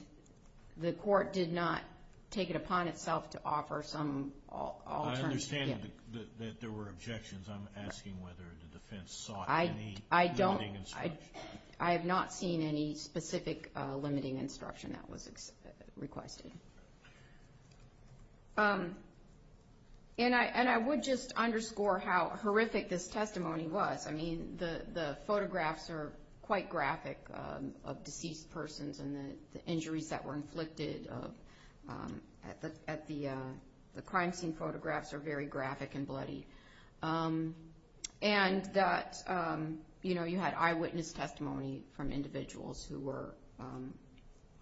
the court did not take it upon itself to offer some alternative. I understand that there were objections. I'm asking whether the defense sought any limiting instruction. I have not seen any specific limiting instruction that was requested. And I would just underscore how horrific this testimony was. I mean, the photographs are quite graphic of deceased persons and the injuries that were inflicted at the crime scene photographs are very graphic and bloody. And that, you know, you had eyewitness testimony from individuals who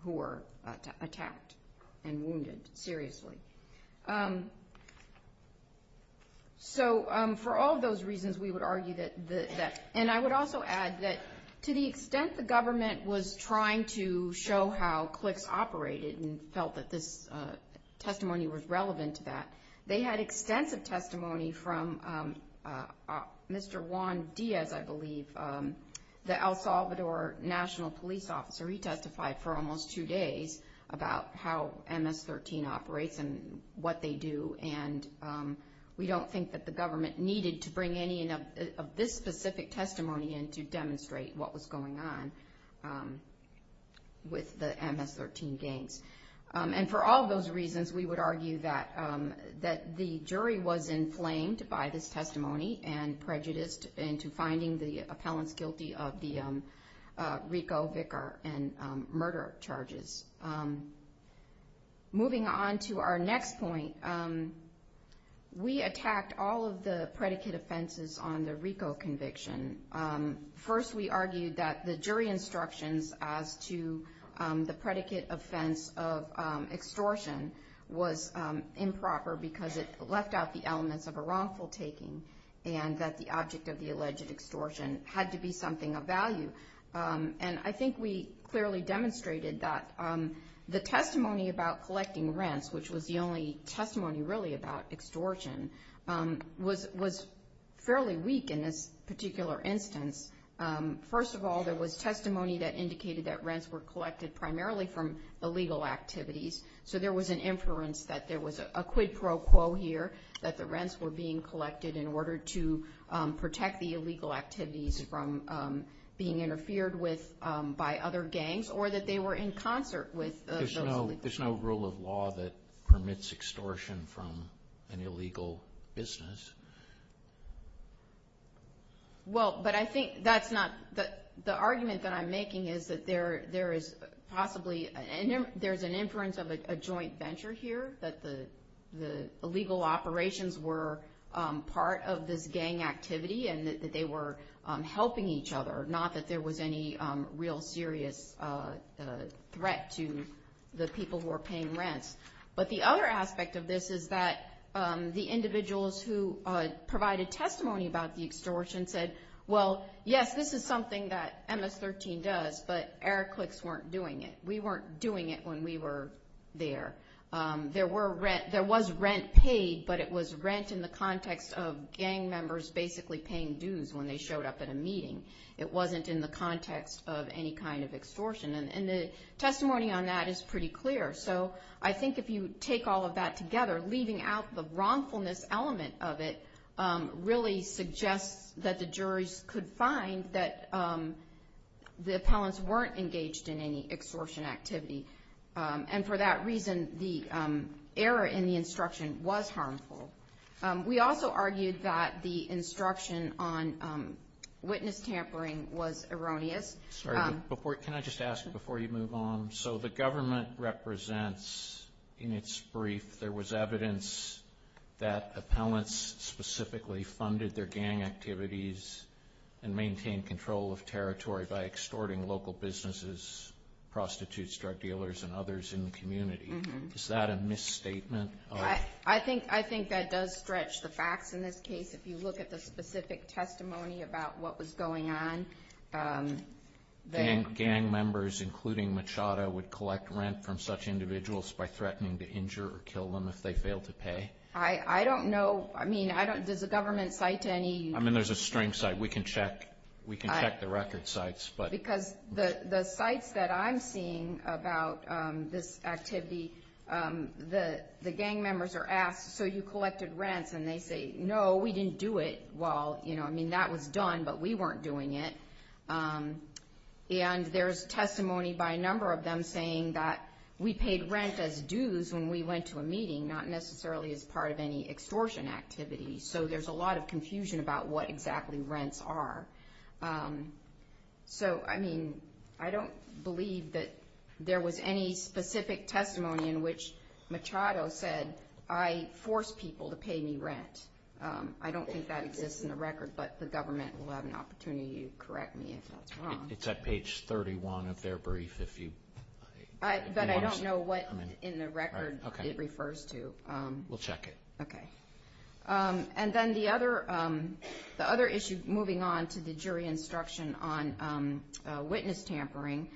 were attacked and wounded seriously. So for all of those reasons, we would argue that the – and I would also add that to the extent the government was trying to show how cliques operated and felt that this testimony was relevant to that, they had extensive testimony from Mr. Juan Diaz, I believe, the El Salvador national police officer. He testified for almost two days about how MS-13 operates and what they do. And we don't think that the government needed to bring any of this specific testimony in to demonstrate what was going on with the MS-13 gangs. And for all of those reasons, we would argue that the jury was inflamed by this testimony and prejudiced into finding the appellants guilty of the RICO, VICAR, and murder charges. Moving on to our next point, we attacked all of the predicate offenses on the RICO conviction. First, we argued that the jury instructions as to the predicate offense of extortion was improper because it left out the elements of a wrongful taking and that the object of the alleged extortion had to be something of value. And I think we clearly demonstrated that the testimony about collecting rents, which was the only testimony really about extortion, was fairly weak in this particular instance. First of all, there was testimony that indicated that rents were collected primarily from illegal activities. So there was an inference that there was a quid pro quo here, that the rents were being collected in order to protect the illegal activities from being interfered with by other gangs or that they were in concert with the illegal activities. There's no rule of law that permits extortion from an illegal business. Well, but I think that's not – the argument that I'm making is that there is possibly – there's an inference of a joint venture here, that the illegal operations were part of this gang activity and that they were helping each other, not that there was any real serious threat to the people who were paying rents. But the other aspect of this is that the individuals who provided testimony about the extortion said, well, yes, this is something that MS-13 does, but Eric Clicks weren't doing it. We weren't doing it when we were there. There was rent paid, but it was rent in the context of gang members basically paying dues when they showed up at a meeting. It wasn't in the context of any kind of extortion. And the testimony on that is pretty clear. So I think if you take all of that together, leaving out the wrongfulness element of it, really suggests that the juries could find that the appellants weren't engaged in any extortion activity. And for that reason, the error in the instruction was harmful. We also argued that the instruction on witness tampering was erroneous. Can I just ask before you move on? So the government represents in its brief there was evidence that appellants specifically funded their gang activities and maintained control of territory by extorting local businesses, prostitutes, drug dealers, and others in the community. Is that a misstatement? I think that does stretch the facts in this case. If you look at the specific testimony about what was going on. Gang members, including Machado, would collect rent from such individuals by threatening to injure or kill them if they failed to pay? I don't know. I mean, does the government cite any? I mean, there's a string cite. We can check the record cites. Because the cites that I'm seeing about this activity, the gang members are asked, so you collected rent, and they say, no, we didn't do it. Well, I mean, that was done, but we weren't doing it. And there's testimony by a number of them saying that we paid rent as dues when we went to a meeting, not necessarily as part of any extortion activity. So there's a lot of confusion about what exactly rents are. So, I mean, I don't believe that there was any specific testimony in which Machado said, I forced people to pay me rent. I don't think that exists in the record, but the government will have an opportunity to correct me if that's wrong. It's at page 31 of their brief. But I don't know what in the record it refers to. We'll check it. Okay. And then the other issue moving on to the jury instruction on witness tampering,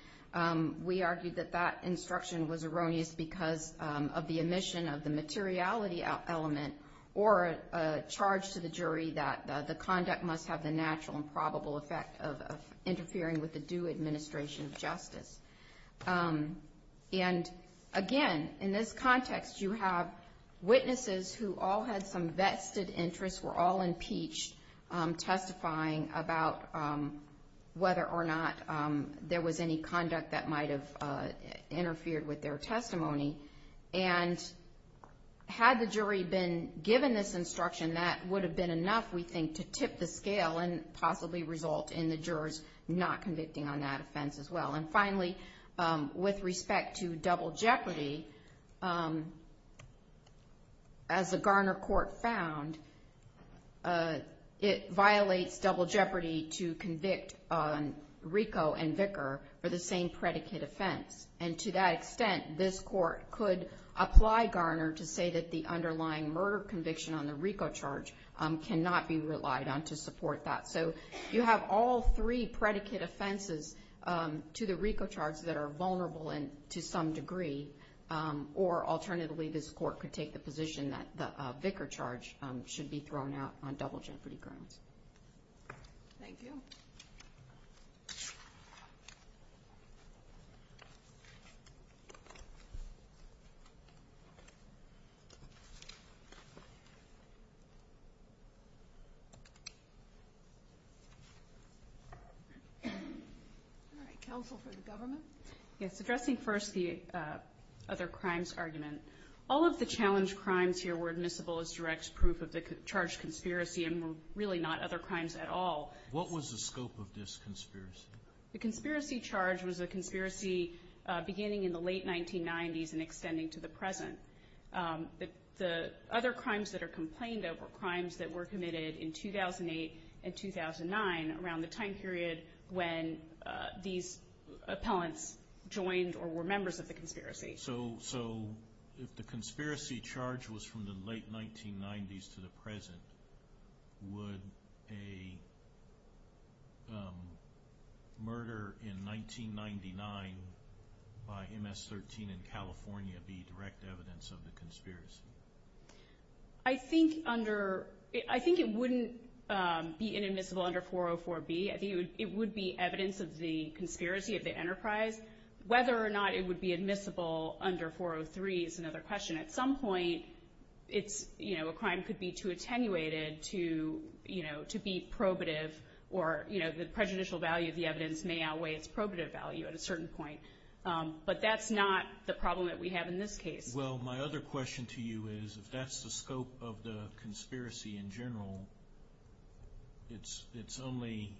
we argued that that instruction was erroneous because of the omission of the materiality element or a charge to the jury that the conduct must have the natural and probable effect of interfering with the due administration of justice. And, again, in this context you have witnesses who all had some vested interests, were all impeached testifying about whether or not there was any conduct that might have interfered with their testimony. And had the jury been given this instruction, that would have been enough, we think, to tip the scale and possibly result in the jurors not convicting on that offense as well. And, finally, with respect to double jeopardy, as the Garner court found, it violates double jeopardy to convict Rico and Vicker for the same predicate offense. And to that extent, this court could apply Garner to say that the underlying murder conviction on the Rico charge cannot be relied on to support that. So you have all three predicate offenses to the Rico charge that are vulnerable to some degree. Or, alternatively, this court could take the position that the Vicker charge should be thrown out on double jeopardy grounds. Thank you. Counsel for the government? Yes, addressing first the other crimes argument. All of the challenged crimes here were admissible as direct proof of the charged conspiracy and were really not other crimes at all. What was the scope of this conspiracy? The conspiracy charge was a conspiracy beginning in the late 1990s and extending to the present. The other crimes that are complained of were crimes that were committed in 2008 and 2009, around the time period when these appellants joined or were members of the conspiracy. So if the conspiracy charge was from the late 1990s to the present, would a murder in 1999 by MS-13 in California be direct evidence of the conspiracy? I think it wouldn't be inadmissible under 404B. It would be evidence of the conspiracy of the enterprise. Whether or not it would be admissible under 403 is another question. At some point, a crime could be too attenuated to be probative, or the prejudicial value of the evidence may outweigh its probative value at a certain point. But that's not the problem that we have in this case. Well, my other question to you is, if that's the scope of the conspiracy in general, it's only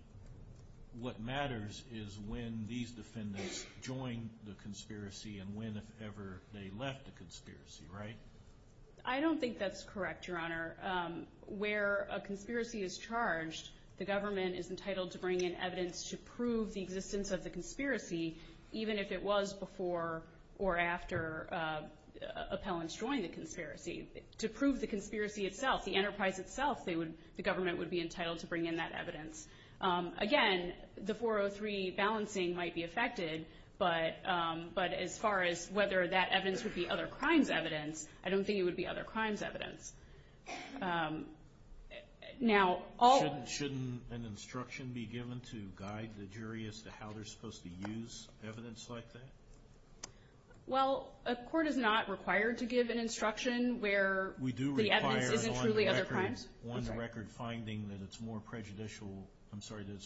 what matters is when these defendants joined the conspiracy and when, if ever, they left the conspiracy, right? I don't think that's correct, Your Honor. Where a conspiracy is charged, the government is entitled to bring in evidence to prove the existence of the conspiracy, even if it was before or after appellants joined the conspiracy. To prove the conspiracy itself, the enterprise itself, the government would be entitled to bring in that evidence. Again, the 403 balancing might be affected, but as far as whether that evidence would be other crimes evidence, I don't think it would be other crimes evidence. Now, all... Shouldn't an instruction be given to guide the jury as to how they're supposed to use evidence like that? Well, a court is not required to give an instruction where the evidence isn't truly other crimes. We do require an on-the-record finding that it's more prejudicial. I'm sorry, that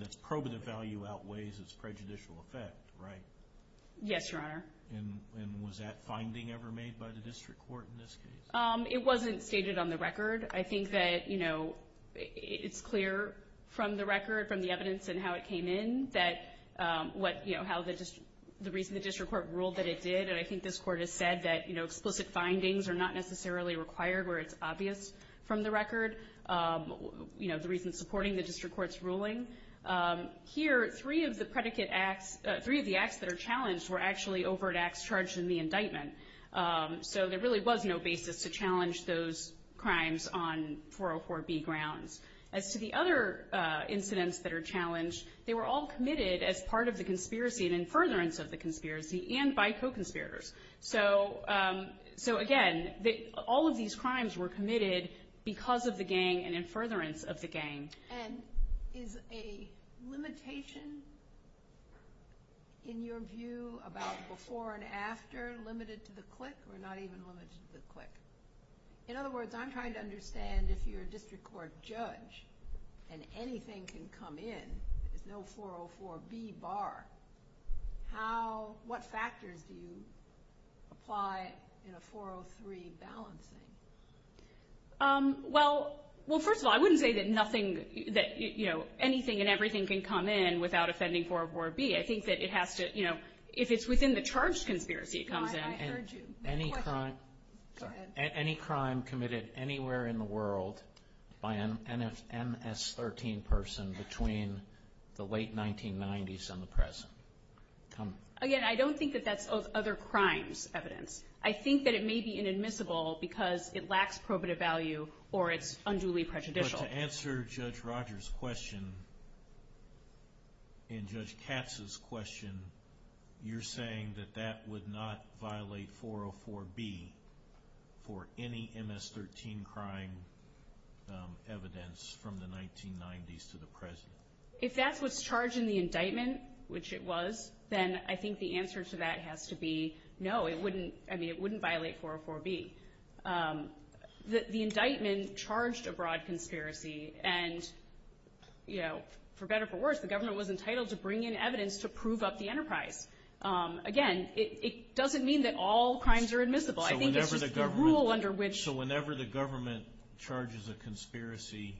it's probative value outweighs its prejudicial effect, right? Yes, Your Honor. And was that finding ever made by the district court in this case? It wasn't stated on the record. I think that, you know, it's clear from the record, from the evidence and how it came in, that what, you know, how the district court ruled that it did, and I think this court has said that, you know, explicit findings are not necessarily required where it's obvious from the record, you know, the reason supporting the district court's ruling. Here, three of the predicate acts... Three of the acts that are challenged were actually overt acts charged in the indictment. So there really was no basis to challenge those crimes on 404B grounds. As to the other incidents that are challenged, they were all committed as part of the conspiracy and in furtherance of the conspiracy and by co-conspirators. So, again, all of these crimes were committed because of the gang and in furtherance of the gang. And is a limitation in your view about before and after limited to the clique or not even limited to the clique? In other words, I'm trying to understand if you're a district court judge and anything can come in, there's no 404B bar, how, what factors do you apply in a 403 balancing? Well, first of all, I wouldn't say that nothing that, you know, anything and everything can come in without offending 404B. I think that it has to, you know, if it's within the charge conspiracy, it comes in. I heard you. Any crime committed anywhere in the world by an MS-13 person between the late 1990s and the present? Again, I don't think that that's other crimes evidence. I think that it may be inadmissible because it lacks probative value or it's unduly prejudicial. But to answer Judge Rogers' question and Judge Katz's question, you're saying that that would not violate 404B for any MS-13 crime evidence from the 1990s to the present? If that was charged in the indictment, which it was, then I think the answer to that has to be no. It wouldn't, I mean, it wouldn't violate 404B. The indictment charged a broad conspiracy and, you know, for better or for worse, the government was entitled to bring in evidence to prove up the enterprise. Again, it doesn't mean that all crimes are admissible. I think it's the rule under which. So whenever the government charges a conspiracy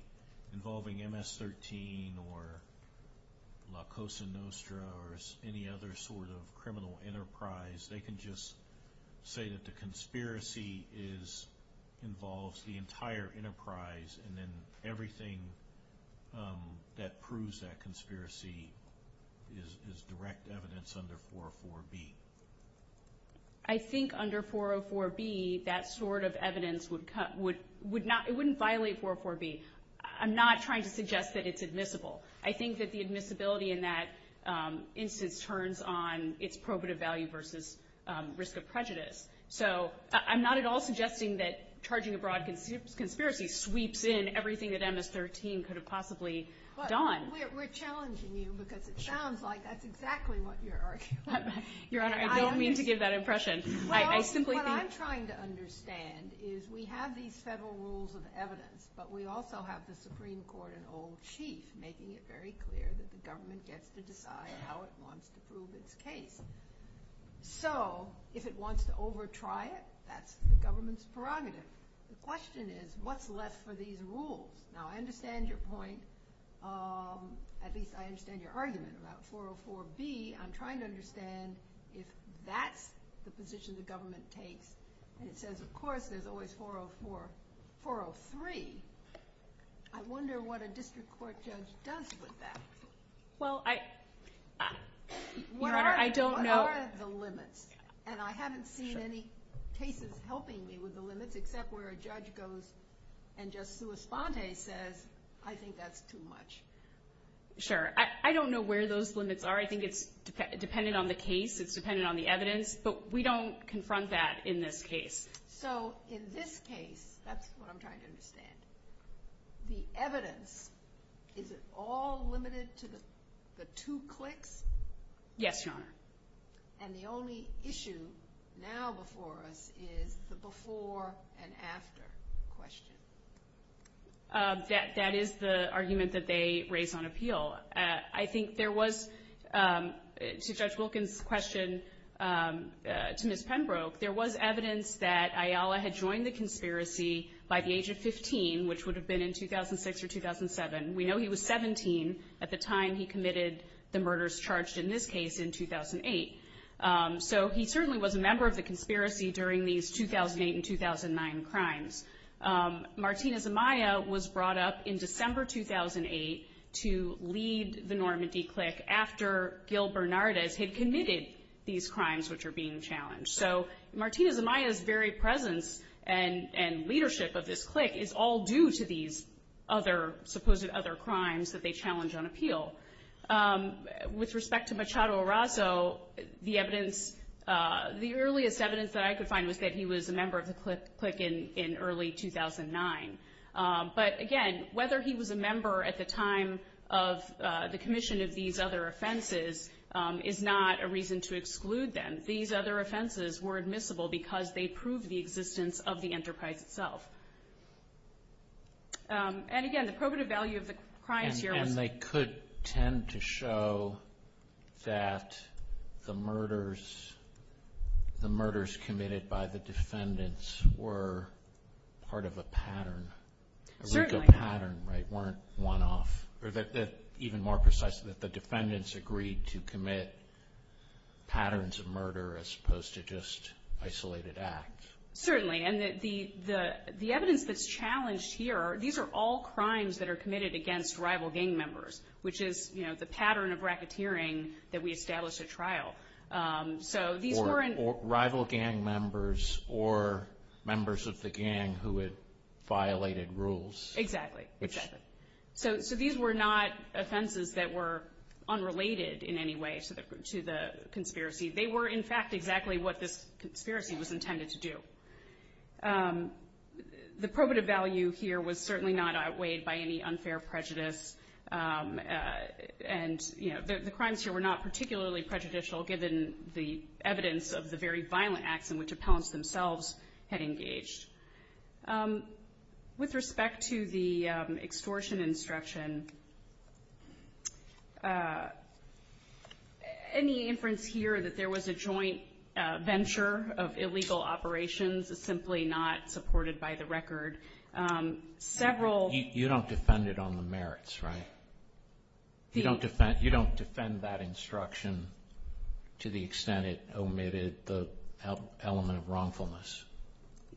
involving MS-13 or La Cosa Nostra or any other sort of criminal enterprise, they can just say that the conspiracy involves the entire enterprise and then everything that proves that conspiracy is direct evidence under 404B. I think under 404B that sort of evidence would not, it wouldn't violate 404B. I'm not trying to suggest that it's admissible. I think that the admissibility in that instance turns on its probative value versus risk of prejudice. So I'm not at all suggesting that charging a broad conspiracy sweeps in everything that MS-13 could have possibly done. We're challenging you because it sounds like that's exactly what you're arguing. Your Honor, I don't mean to give that impression. What I'm trying to understand is we have these federal rules of evidence, but we also have the Supreme Court and old sheets making it very clear that the government gets to decide how it wants to prove its case. So if it wants to over-try it, that's the government's prerogative. The question is what's left for these rules? Now I understand your point. At least I understand your argument about 404B. I'm trying to understand if that's the position the government takes. It says, of course, there's always 404, 403. I wonder what a district court judge does with that. Well, I don't know. What are the limits? And I haven't seen any cases helping me with the limits, except where a judge goes and just through a sponte says, I think that's too much. Sure. I don't know where those limits are. I think it's dependent on the case. It's dependent on the evidence. But we don't confront that in this case. So in this case, that's what I'm trying to understand. The evidence, is it all limited to the two clicks? Yes, Your Honor. And the only issue now before us is the before and after question. That is the argument that they raised on appeal. I think there was, to Judge Wilkins' question, to Ms. Penbroke, there was evidence that Ayala had joined the conspiracy by the age of 15, which would have been in 2006 or 2007. We know he was 17 at the time he committed the murders charged in this case in 2008. So he certainly was a member of the conspiracy during these 2008 and 2009 crimes. Martina Zemaya was brought up in December 2008 to lead the Normandy click after Gil Bernardez had committed these crimes which were being challenged. So Martina Zemaya's very presence and leadership of this click is all due to these other, supposed other crimes that they challenged on appeal. With respect to Machado Arraso, the evidence, the earliest evidence that I could find was that he was a member of the click in early 2009. But, again, whether he was a member at the time of the commission of these other offenses is not a reason to exclude them. These other offenses were admissible because they proved the existence of the enterprise itself. And, again, the probative value of the crime theory. And they could tend to show that the murders committed by the defendants were part of a pattern, a legal pattern, right, weren't one-off. Or, even more precisely, that the defendants agreed to commit patterns of murder as opposed to just isolated acts. Certainly. And the evidence that's challenged here, these are all crimes that are committed against rival gang members, which is, you know, the pattern of racketeering that we established at trial. Or rival gang members or members of the gang who had violated rules. Exactly. Exactly. So these were not offenses that were unrelated in any way to the conspiracy. They were, in fact, exactly what the conspiracy was intended to do. The probative value here was certainly not outweighed by any unfair prejudice. And, you know, the crimes here were not particularly prejudicial, given the evidence of the very violent acts in which appellants themselves had engaged. With respect to the extortion instruction, any inference here that there was a joint venture of illegal operations is simply not supported by the record. You don't defend it on the merits, right? You don't defend that instruction to the extent it omitted the element of wrongfulness.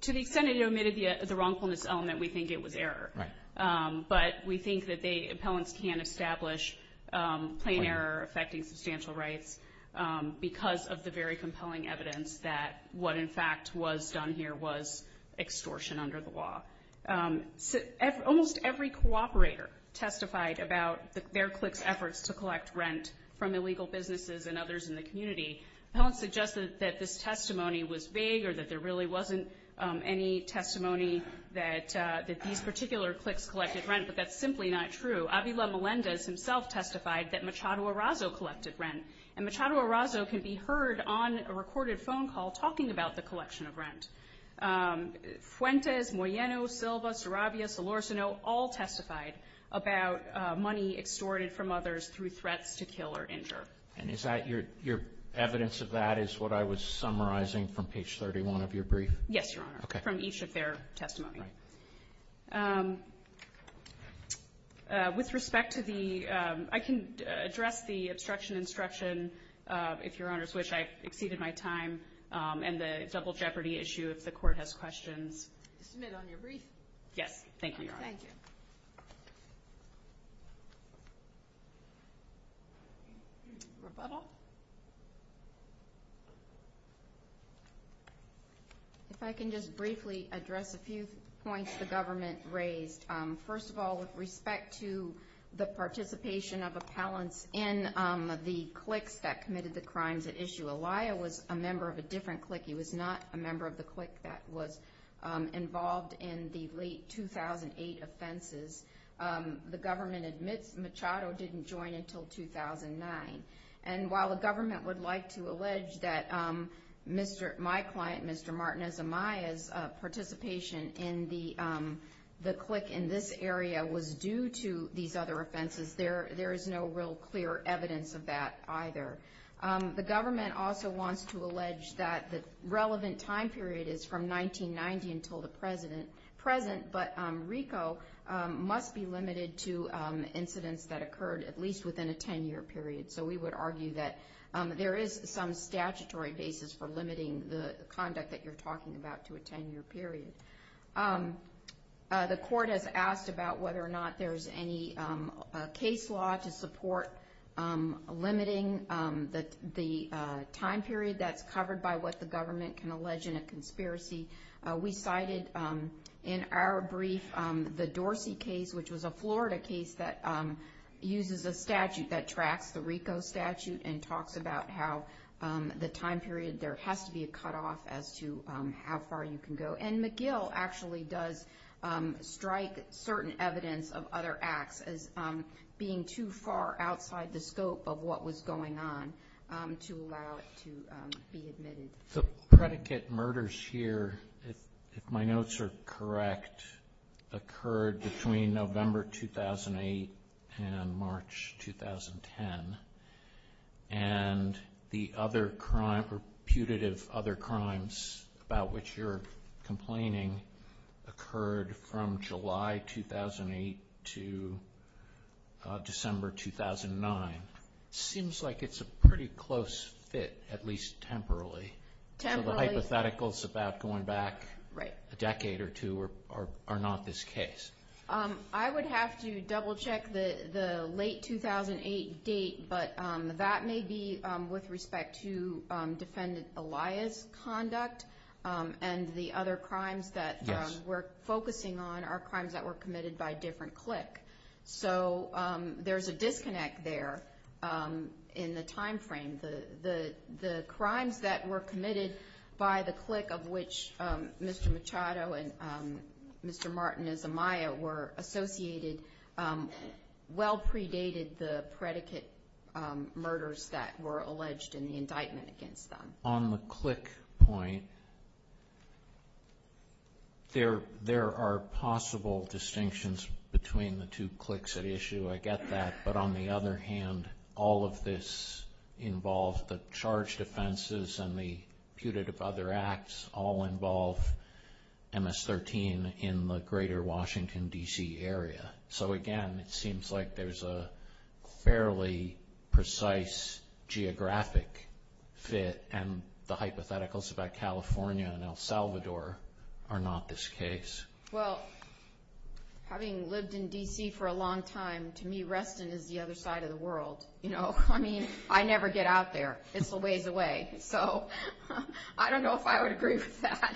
To the extent it omitted the wrongfulness element, we think it was error. Right. But we think that appellants can establish plain error affecting substantial rights because of the very compelling evidence that what, in fact, was done here was extortion under the law. Almost every cooperator testified about their CLIPS efforts to collect rent from illegal businesses and others in the community. Appellants suggested that this testimony was vague or that there really wasn't any testimony that these particular CLIPS collected rent, but that's simply not true. Avila Melendez himself testified that Machado Arazo collected rent. And Machado Arazo can be heard on a recorded phone call talking about the collection of rent. Fuentes, Moyeno, Silva, Sarabia, Solorzano all testified about money extorted from others through threats to kill or injure. And is that your evidence of that is what I was summarizing from page 31 of your brief? Yes, Your Honor. Okay. From each of their testimonies. Right. With respect to the – I can address the obstruction instruction if Your Honor's wish. I've exceeded my time. And the double jeopardy issue if the Court has questions. Is it on your brief? Yes. Thank you, Your Honor. Thank you. Rebuttal? If I can just briefly address a few points the government raised. First of all, with respect to the participation of appellants in the CLIPS that committed the crimes at issue, Elia was a member of a different CLIPS. He was not a member of the CLIPS that was involved in the late 2008 offenses. The government admits Machado didn't join until 2009. And while the government would like to allege that my client, Mr. Martinez Amaya's, participation in the CLIPS in this area was due to these other offenses, there is no real clear evidence of that either. The government also wants to allege that the relevant time period is from 1990 until the present. But RICO must be limited to incidents that occurred at least within a 10-year period. So we would argue that there is some statutory basis for limiting the conduct that you're talking about to a 10-year period. The Court has asked about whether or not there's any case law to support limiting the time period that's covered by what the government can allege in a conspiracy. We cited in our brief the Dorsey case, which was a Florida case that uses a statute that tracks the RICO statute and talks about how the time period there has to be a cutoff as to how far you can go. And McGill actually does strike certain evidence of other acts as being too far outside the scope of what was going on to allow it to be admitted. The predicate murders here, if my notes are correct, occurred between November 2008 and March 2010. And the other crimes, reputative other crimes about which you're complaining, occurred from July 2008 to December 2009. It seems like it's a pretty close fit, at least temporarily. So the hypothetical is about going back a decade or two or not this case. I would have to double-check the late 2008 date, but that may be with respect to Defendant Elia's conduct. And the other crimes that we're focusing on are crimes that were committed by a different clique. So there's a disconnect there in the time frame. The crimes that were committed by the clique of which Mr. Machado and Mr. Martin Izumaya were associated well predated the predicate murders that were alleged in the indictment against them. On the clique point, there are possible distinctions between the two cliques at issue. I get that. But on the other hand, all of this involves the charge defenses and the reputative other acts all involve MS-13 in the greater Washington, D.C. area. So again, it seems like there's a fairly precise geographic fit, and the hypotheticals about California and El Salvador are not this case. Well, having lived in D.C. for a long time, to me, Reston is the other side of the world. I mean, I never get out there. It's a ways away. So I don't know if I would agree with that.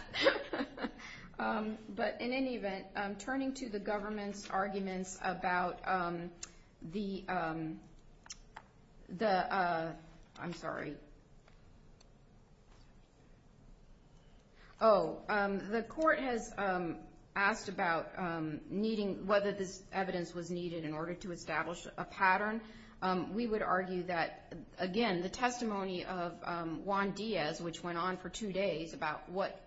But in any event, turning to the government's arguments about the ‑‑ I'm sorry. Oh, the court has asked about whether this evidence was needed in order to establish a pattern. We would argue that, again, the testimony of Juan Diaz, which went on for two days about what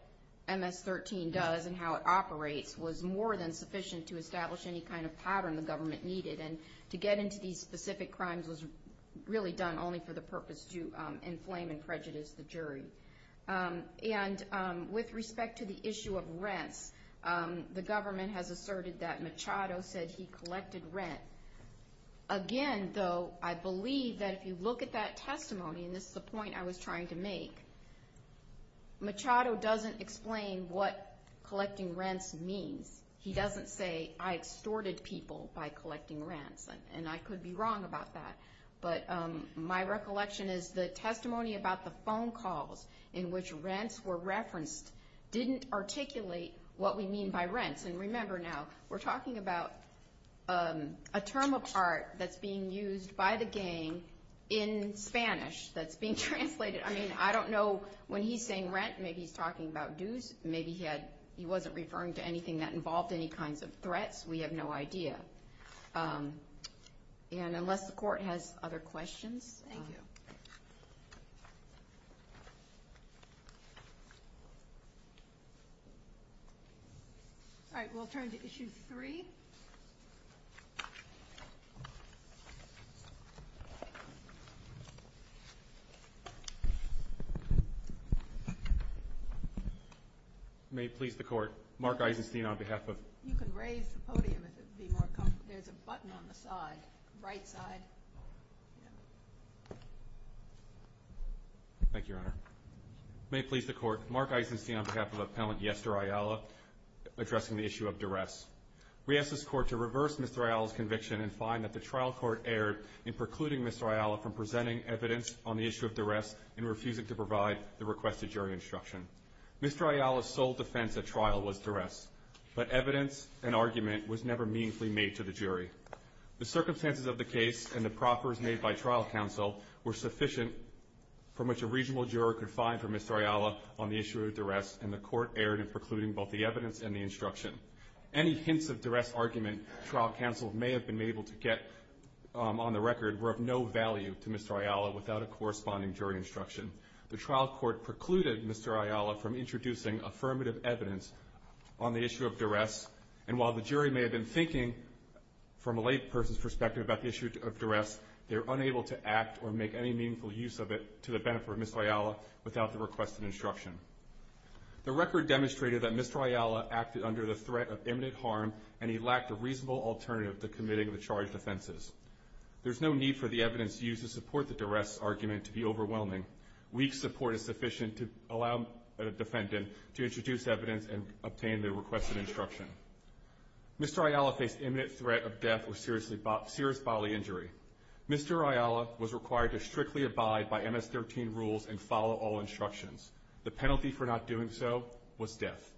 MS-13 does and how it operates, was more than sufficient to establish any kind of pattern the government needed. And to get into these specific crimes was really done only for the purpose to inflame and prejudice the jury. And with respect to the issue of rent, the government has asserted that Machado said he collected rent. Again, though, I believe that if you look at that testimony, and this is the point I was trying to make, Machado doesn't explain what collecting rent means. He doesn't say, I extorted people by collecting rent. And I could be wrong about that. But my recollection is the testimony about the phone calls in which rents were referenced didn't articulate what we mean by rent. And remember now, we're talking about a term of art that's being used by the gang in Spanish that's being translated. I mean, I don't know when he's saying rent, maybe he's talking about dues. Maybe he wasn't referring to anything that involved any kinds of threats. We have no idea. And unless the court has other questions. Thank you. All right, we'll turn to Issue 3. May it please the Court, Mark Eisenstein on behalf of You can raise the podium if it would be more comfortable. There's a button on the side, right side. Thank you, Your Honor. May it please the Court, Mark Eisenstein on behalf of Appellant Yester Ayala addressing the issue of duress. We ask this Court to reverse Mr. Ayala's conviction and find that the trial court erred in precluding Mr. Ayala from presenting evidence on the issue of duress and refusing to provide the requested jury instruction. Mr. Ayala's sole defense of trial was duress, but evidence and argument was never meaningfully made to the jury. The circumstances of the case and the proffers made by trial counsel were sufficient for which a reasonable juror could find for Mr. Ayala on the issue of duress and the court erred in precluding both the evidence and the instruction. Any hints of duress argument trial counsel may have been able to get on the record were of no value to Mr. Ayala without a corresponding jury instruction. The trial court precluded Mr. Ayala from introducing affirmative evidence on the issue of duress and while the jury may have been thinking from a lay person's perspective about the issue of duress, they were unable to act or make any meaningful use of it to the benefit of Mr. Ayala without the requested instruction. The record demonstrated that Mr. Ayala acted under the threat of imminent harm and he lacked a reasonable alternative to committing the charged offenses. There's no need for the evidence used to support the duress argument to be overwhelming. Weak support is sufficient to allow the defendant to introduce evidence and obtain the requested instruction. Mr. Ayala's imminent threat of death was serious bodily injury. Mr. Ayala was required to strictly abide by MS-13 rules and follow all instructions. The penalty for not doing so was death.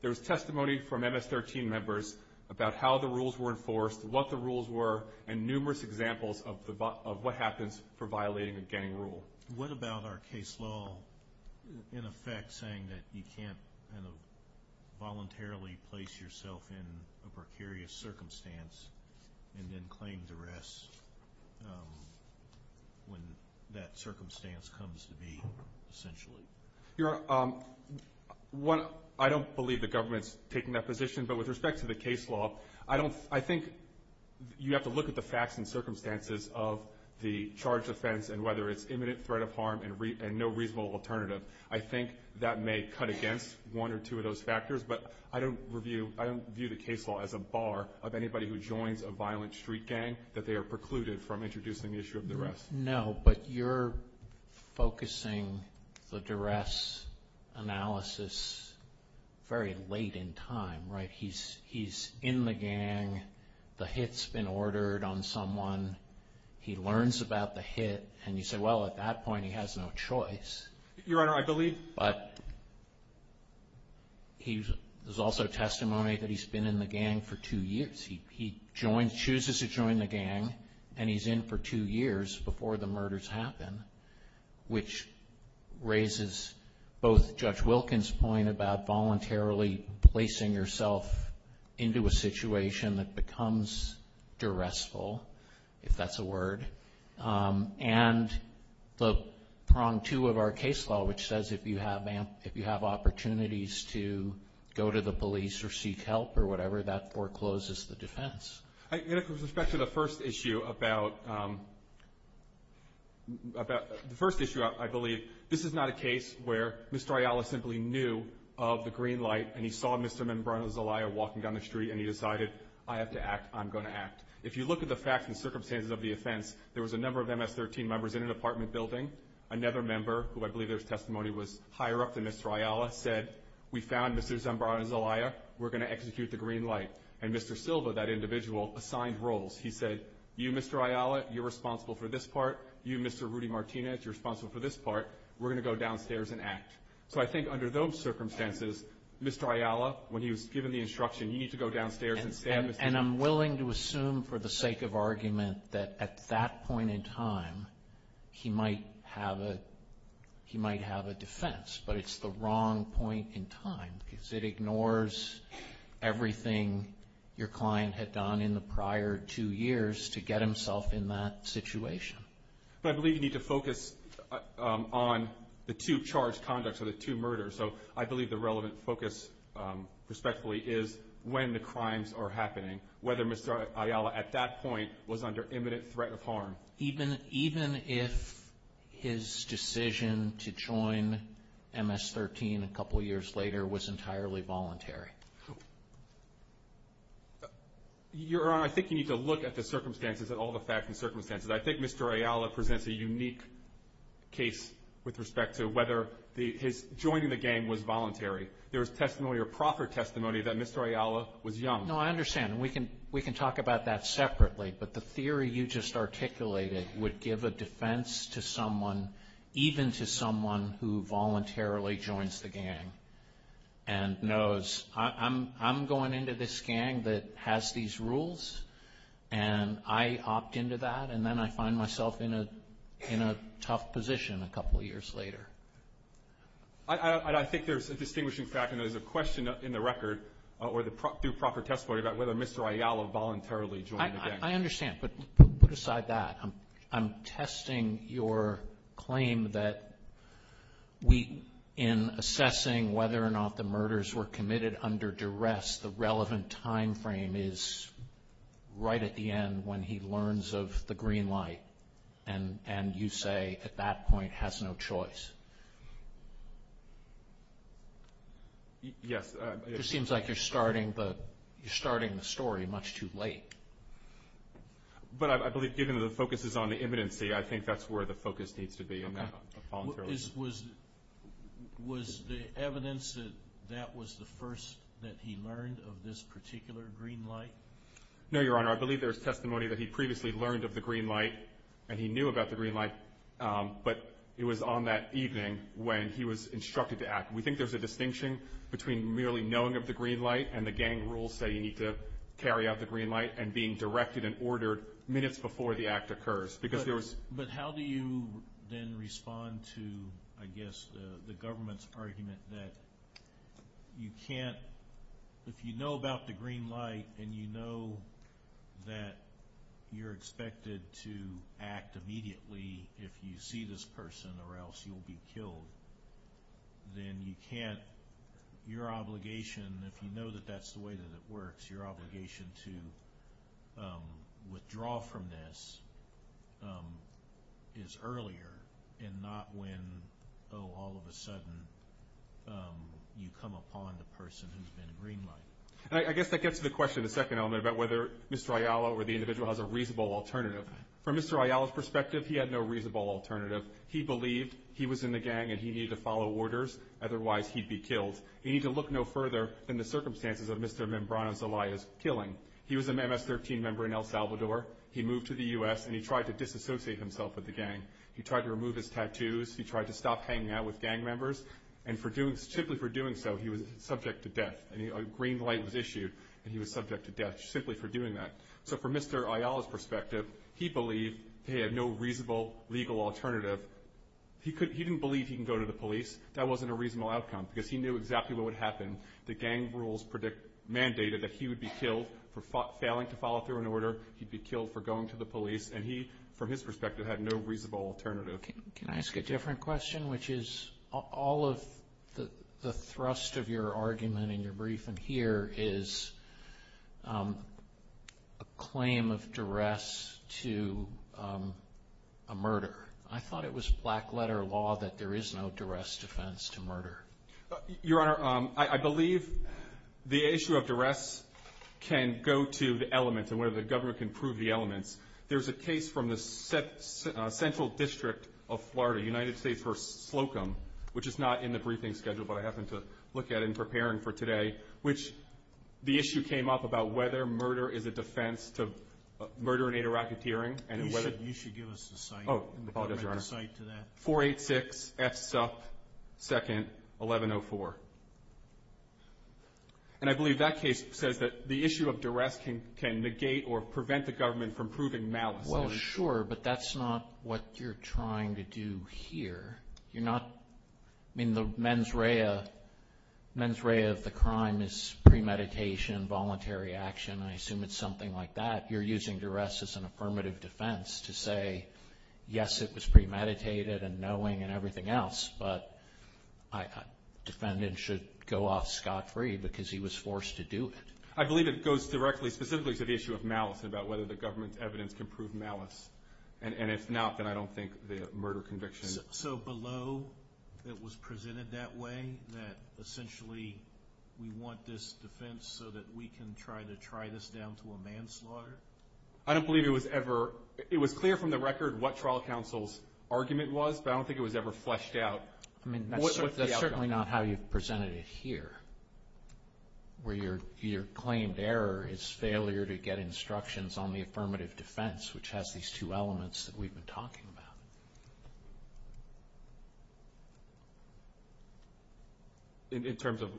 There was testimony from MS-13 members about how the rules were enforced, what the rules were, and numerous examples of what happens for violating a gang rule. What about our case law, in effect, saying that you can't voluntarily place yourself in a precarious circumstance and then claim duress when that circumstance comes to be, essentially? I don't believe the government's taking that position, but with respect to the case law, I think you have to look at the facts and circumstances of the charged offense and whether it's imminent threat of harm and no reasonable alternative. I think that may cut against one or two of those factors, but I don't view the case law as a bar of anybody who joins a violent street gang that they are precluded from introducing the issue of duress. No, but you're focusing the duress analysis very late in time, right? He's in the gang, the hit's been ordered on someone, he learns about the hit, and you say, well, at that point he has no choice. Your Honor, I believe. But there's also testimony that he's been in the gang for two years. He chooses to join the gang and he's in for two years before the murders happen, which raises both Judge Wilkins' point about voluntarily placing yourself into a situation that becomes duressful, if that's a word, and the prong two of our case law, which says if you have opportunities to go to the police or seek help or whatever, that forecloses the defense. In respect to the first issue, I believe, this is not a case where Mr. Ayala simply knew of the green light and he saw Mr. Zambrano Zelaya walking down the street and he decided, I have to act, I'm going to act. If you look at the facts and circumstances of the offense, there was a number of MS-13 members in an apartment building. Another member, who I believe his testimony was higher up than Mr. Ayala, said, we found Mr. Zambrano Zelaya, we're going to execute the green light. And Mr. Silva, that individual, assigned roles. He said, you, Mr. Ayala, you're responsible for this part. You, Mr. Rudy Martinez, you're responsible for this part. We're going to go downstairs and act. So I think under those circumstances, Mr. Ayala, when he was given the instruction, you need to go downstairs and stand. And I'm willing to assume for the sake of argument that at that point in time, he might have a defense, but it's the wrong point in time because it ignores everything your client had done in the prior two years to get himself in that situation. So I believe you need to focus on the two charged conducts or the two murders. So I believe the relevant focus, respectfully, is when the crimes are happening, whether Mr. Ayala at that point was under imminent threat of harm. Even if his decision to join MS-13 a couple years later was entirely voluntary. Your Honor, I think you need to look at the circumstances, at all the facts and circumstances. I think Mr. Ayala presents a unique case with respect to whether his joining the gang was voluntary. There was testimony or proper testimony that Mr. Ayala was young. No, I understand. And we can talk about that separately. But the theory you just articulated would give a defense to someone, even to someone who voluntarily joins the gang and knows, I'm going into this gang that has these rules, and I opt into that, and then I find myself in a tough position a couple years later. I think there's a distinguishing fact, and there's a question in the record, through proper testimony, about whether Mr. Ayala voluntarily joined the gang. I understand, but put aside that. I'm testing your claim that in assessing whether or not the murders were committed under duress, the relevant time frame is right at the end when he learns of the green light, and you say at that point has no choice. Yes. It seems like you're starting the story much too late. But I believe given the focus is on the imminency, I think that's where the focus needs to be. Was the evidence that that was the first that he learned of this particular green light? No, Your Honor. I believe there's testimony that he previously learned of the green light, and he knew about the green light, but it was on that evening when he was instructed to act. We think there's a distinction between merely knowing of the green light and the gang rules say you need to carry out the green light and being directed and ordered minutes before the act occurs. But how do you then respond to, I guess, the government's argument that you can't, if you know about the green light and you know that you're expected to act immediately if you see this person or else you will be killed, then you can't, your obligation if you know that that's the way that it works, your obligation to withdraw from this is earlier and not when, oh, all of a sudden you come upon the person who's been in green light. I guess that gets to the question, the second element, about whether Mr. Ayala or the individual has a reasonable alternative. From Mr. Ayala's perspective, he had no reasonable alternative. He believed he was in the gang and he needed to follow orders, otherwise he'd be killed. He needed to look no further than the circumstances of Mr. Mimbrano's Elias killing. He was an MS-13 member in El Salvador. He moved to the U.S. and he tried to disassociate himself with the gang. He tried to remove his tattoos. He tried to stop hanging out with gang members, and simply for doing so he was subject to death. A green light was issued and he was subject to death simply for doing that. So from Mr. Ayala's perspective, he believed he had no reasonable legal alternative. He didn't believe he could go to the police. That wasn't a reasonable outcome because he knew exactly what would happen. The gang rules mandated that he would be killed for failing to follow through an order. He'd be killed for going to the police. And he, from his perspective, had no reasonable alternative. Can I ask a different question, which is all of the thrust of your argument in your briefing here is a claim of duress to a murder. I thought it was black letter law that there is no duress defense to murder. Your Honor, I believe the issue of duress can go to the elements and whether the government can prove the elements. There's a case from the Central District of Florida, United States v. Slocum, which is not in the briefing schedule but I happened to look at it in preparing for today, which the issue came up about whether murder is a defense to murder and interrogateering. You should give us the site. Oh, I'll do that. The site to that. 486-S2-1104. And I believe that case said that the issue of duress can negate or prevent the government from proving malice. Well, sure, but that's not what you're trying to do here. You're not in the mens rea. Mens rea of the crime is premeditation, voluntary action. I assume it's something like that. You're using duress as an affirmative defense to say, yes, it was premeditated and knowing and everything else, but my defendant should go off scot-free because he was forced to do it. I believe it goes directly specifically to the issue of malice, about whether the government's evidence can prove malice. And if not, then I don't think the murder conviction. So below it was presented that way, that essentially we want this defense so that we can try to try this down to a manslaughter? I don't believe it was ever. It was clear from the record what trial counsel's argument was, but I don't think it was ever fleshed out. I mean, that's certainly not how you presented it here, where your claimed error is failure to get instructions on the affirmative defense, which has these two elements that we've been talking about. In terms of,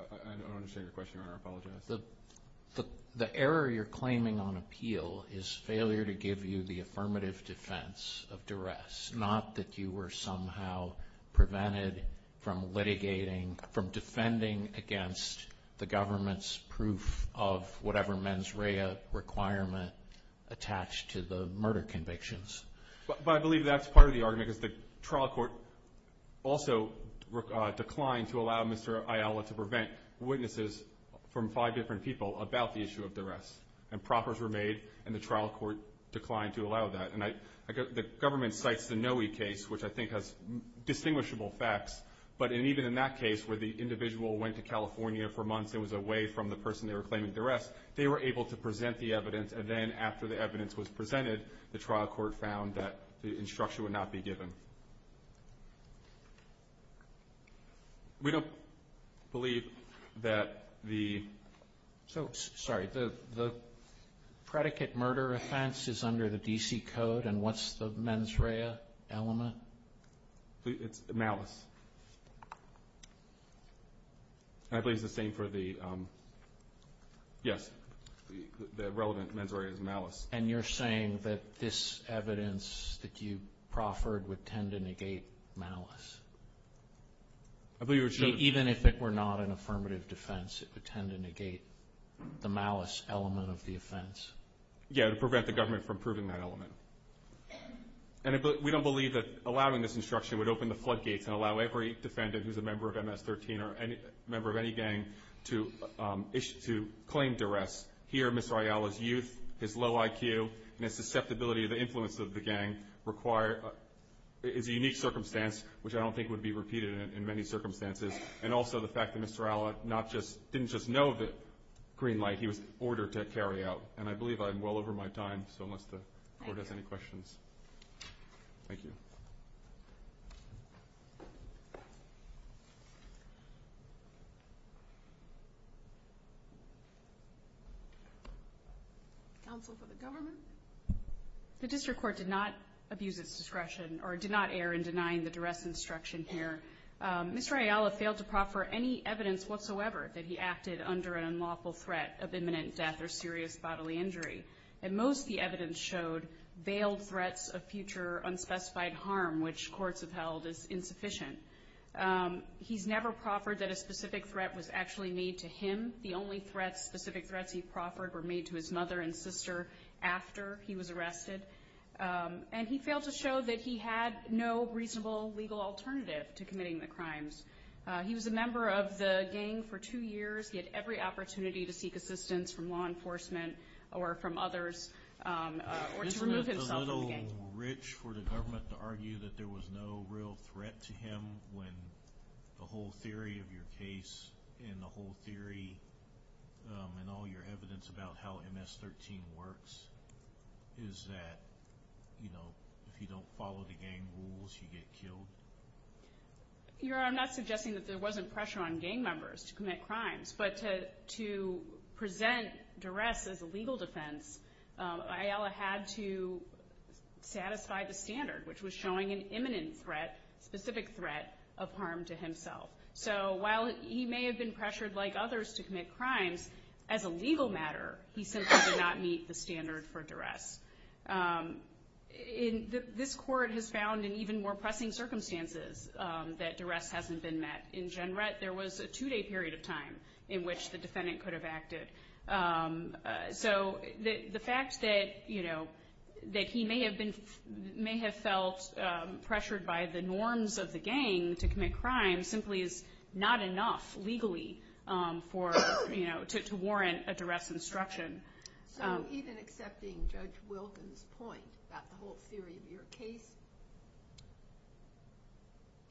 I don't understand your question. I apologize. The error you're claiming on appeal is failure to give you the affirmative defense of duress, not that you were somehow prevented from litigating, from defending against the government's proof of whatever mens rea requirement attached to the murder convictions. But I believe that's part of the argument, that the trial court also declined to allow Mr. Ayala to prevent witnesses from five different people about the issue of duress, and proffers were made and the trial court declined to allow that. And the government cites the Noe case, which I think has distinguishable facts, but even in that case where the individual went to California for a month and was away from the person they were claiming duress, they were able to present the evidence, and then after the evidence was presented, the trial court found that the instruction would not be given. We don't believe that the predicate murder offense is under the D.C. Code, and what's the mens rea element? It's malice. I believe the thing for the, yes, the relevant mens rea is malice. And you're saying that this evidence that you proffered would tend to negate malice? Even if it were not an affirmative defense, it would tend to negate the malice element of the offense? Yes, to prevent the government from proving that element. And we don't believe that allowing this instruction would open the floodgates and allow every defendant who's a member of MS-13 or a member of any gang to claim duress. Here, Mr. Ayala's youth, his low IQ, and his susceptibility to the influence of the gang is a unique circumstance, which I don't think would be repeated in many circumstances, and also the fact that Mr. Ayala didn't just know that Greenlight, he was ordered to carry out. And I believe I'm well over my time, so unless the court has any questions. Thank you. Counsel for the government? The district court did not abuse its discretion or did not err in denying the duress instruction here. Mr. Ayala failed to proffer any evidence whatsoever that he acted under an unlawful threat of imminent death or serious bodily injury. And most of the evidence showed veiled threats of future unspecified harm, which courts have held as insufficient. He's never proffered that a specific threat was actually made to him. The only specific threats he proffered were made to his mother and sister after he was arrested. And he failed to show that he had no reasonable legal alternative to committing the crimes. He was a member of the gang for two years. He had every opportunity to seek assistance from law enforcement or from others. Isn't it a little rich for the government to argue that there was no real threat to him when the whole theory of your case and the whole theory and all your evidence about how MS-13 works is that, you know, if you don't follow the gang rules, you get killed? Your Honor, I'm not suggesting that there wasn't pressure on gang members to commit crimes, but to present duress as a legal defense, Ayala had to satisfy the standard, which was showing an imminent threat, specific threat of harm to himself. So while he may have been pressured like others to commit crimes, as a legal matter, this court has found in even more pressing circumstances that duress hasn't been met. In Jenrette, there was a two-day period of time in which the defendant could have acted. So the fact that he may have felt pressured by the norms of the gang to commit crimes simply is not enough legally to warrant a duress instruction. Even accepting Judge Wilkins' point about the whole theory of your case,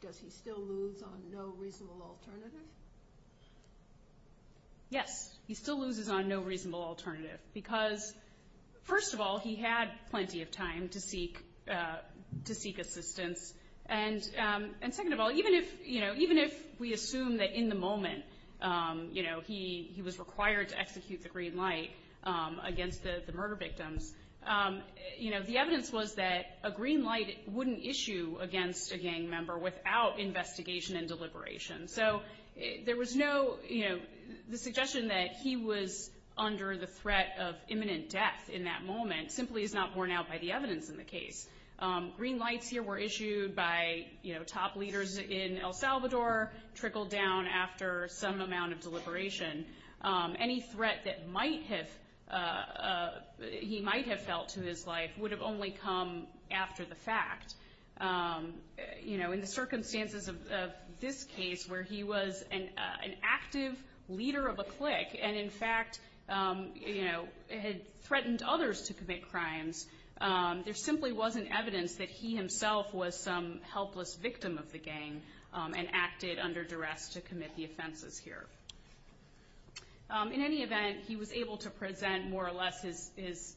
does he still lose on no reasonable alternative? Yes, he still loses on no reasonable alternative because, first of all, he had plenty of time to seek assistance. And second of all, even if, you know, even if we assume that in the moment, you know, he was required to execute the green light against the murder victim, you know, the evidence was that a green light wouldn't issue against a gang member without investigation and deliberation. So there was no, you know, the suggestion that he was under the threat of imminent death in that moment simply is not borne out by the evidence in the case. Green lights here were issued by, you know, top leaders in El Salvador, trickled down after some amount of deliberation. Any threat that might have, he might have felt in his life would have only come after the fact. You know, in the circumstances of this case where he was an active leader of a clique and in fact, you know, had threatened others to commit crimes, there simply wasn't evidence that he himself was some helpless victim of the gang and acted under duress to commit the offenses here. In any event, he was able to present more or less his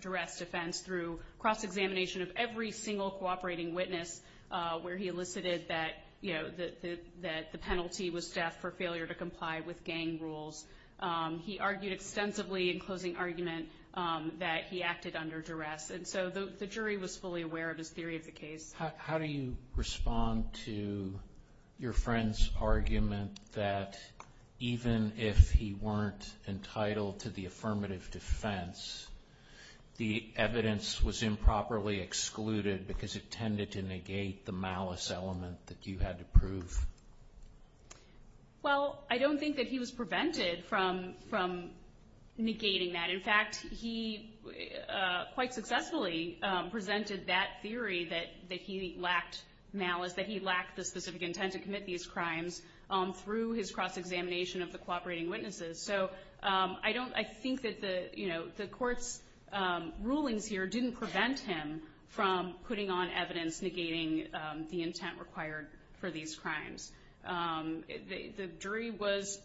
duress defense through cross-examination of every single cooperating witness where he elicited that, you know, that the penalty was death for failure to comply with gang rules. He argued extensively in closing arguments that he acted under duress. And so the jury was fully aware of his theory of the case. How do you respond to your friend's argument that even if he weren't entitled to the affirmative defense, the evidence was improperly excluded because it tended to negate the malice element that you had to prove? Well, I don't think that he was prevented from negating that. In fact, he quite successfully presented that theory that he lacked malice, that he lacked the specific intent to commit these crimes through his cross-examination of the cooperating witnesses. So I think that the court's rulings here didn't prevent him from putting on evidence negating the intent required for these crimes. The jury was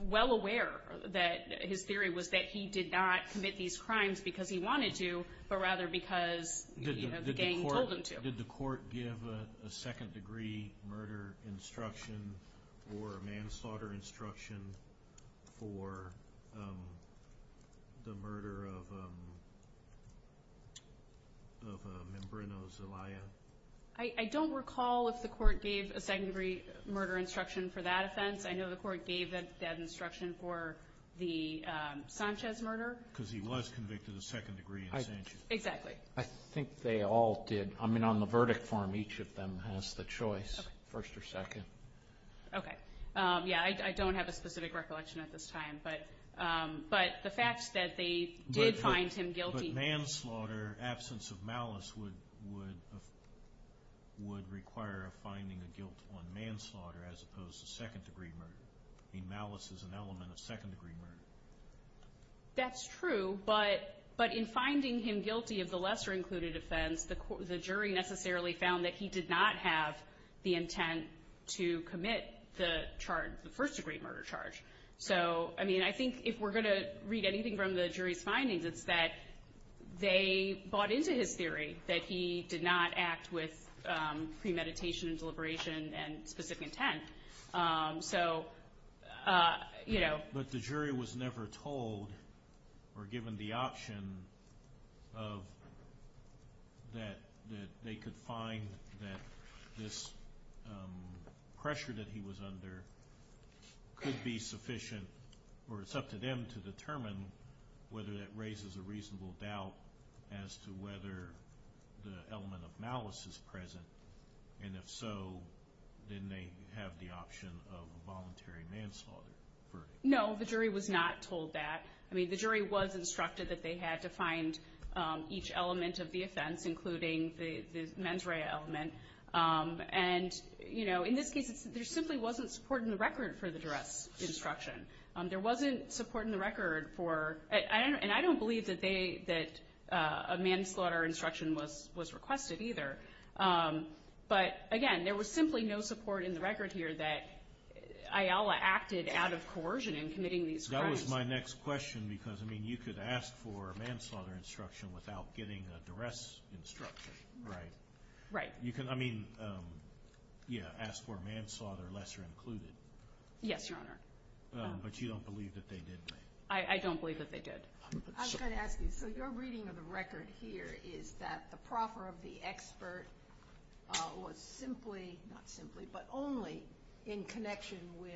well aware that his theory was that he did not commit these crimes because he wanted to, but rather because the gang told him to. Did the court give a second-degree murder instruction or manslaughter instruction for the murder of a member in the Zelaya? I don't recall if the court gave a second-degree murder instruction for that offense. I know the court gave that instruction for the Sanchez murder. Because he was convicted of second-degree. Exactly. I think they all did. I mean, on the verdict form, each of them has the choice, first or second. Okay. Yeah, I don't have a specific recollection at this time. But the fact that they did find him guilty. But manslaughter, absence of malice, would require a finding of guilt on manslaughter, as opposed to second-degree murder. I mean, malice is an element of second-degree murder. That's true. But in finding him guilty of the lesser-included offense, the jury necessarily found that he did not have the intent to commit the first-degree murder charge. So, I mean, I think if we're going to read anything from the jury's findings, it's that they bought into his theory that he did not act with premeditation, deliberation, and specific intent. So, you know. But the jury was never told or given the option that they could find that this pressure that he was under could be sufficient, or it's up to them to determine whether that raises a reasonable doubt as to whether the element of malice is present. And if so, then they have the option of voluntary manslaughter. No, the jury was not told that. I mean, the jury was instructed that they had to find each element of the offense, including the mens rea element. And, you know, in this case, there simply wasn't support in the record for the direct instruction. There wasn't support in the record for – and I don't believe that a manslaughter instruction was requested either. But, again, there was simply no support in the record here that Ayala acted out of coercion in committing these crimes. That was my next question, because, I mean, you could ask for a manslaughter instruction without getting a duress instruction, right? Right. I mean, yeah, ask for manslaughter, lesser included. Yes, Your Honor. But you don't believe that they did, right? I don't believe that they did. I was going to ask you, so your reading of the record here is that the proffer of the expert was simply – not simply, but only in connection with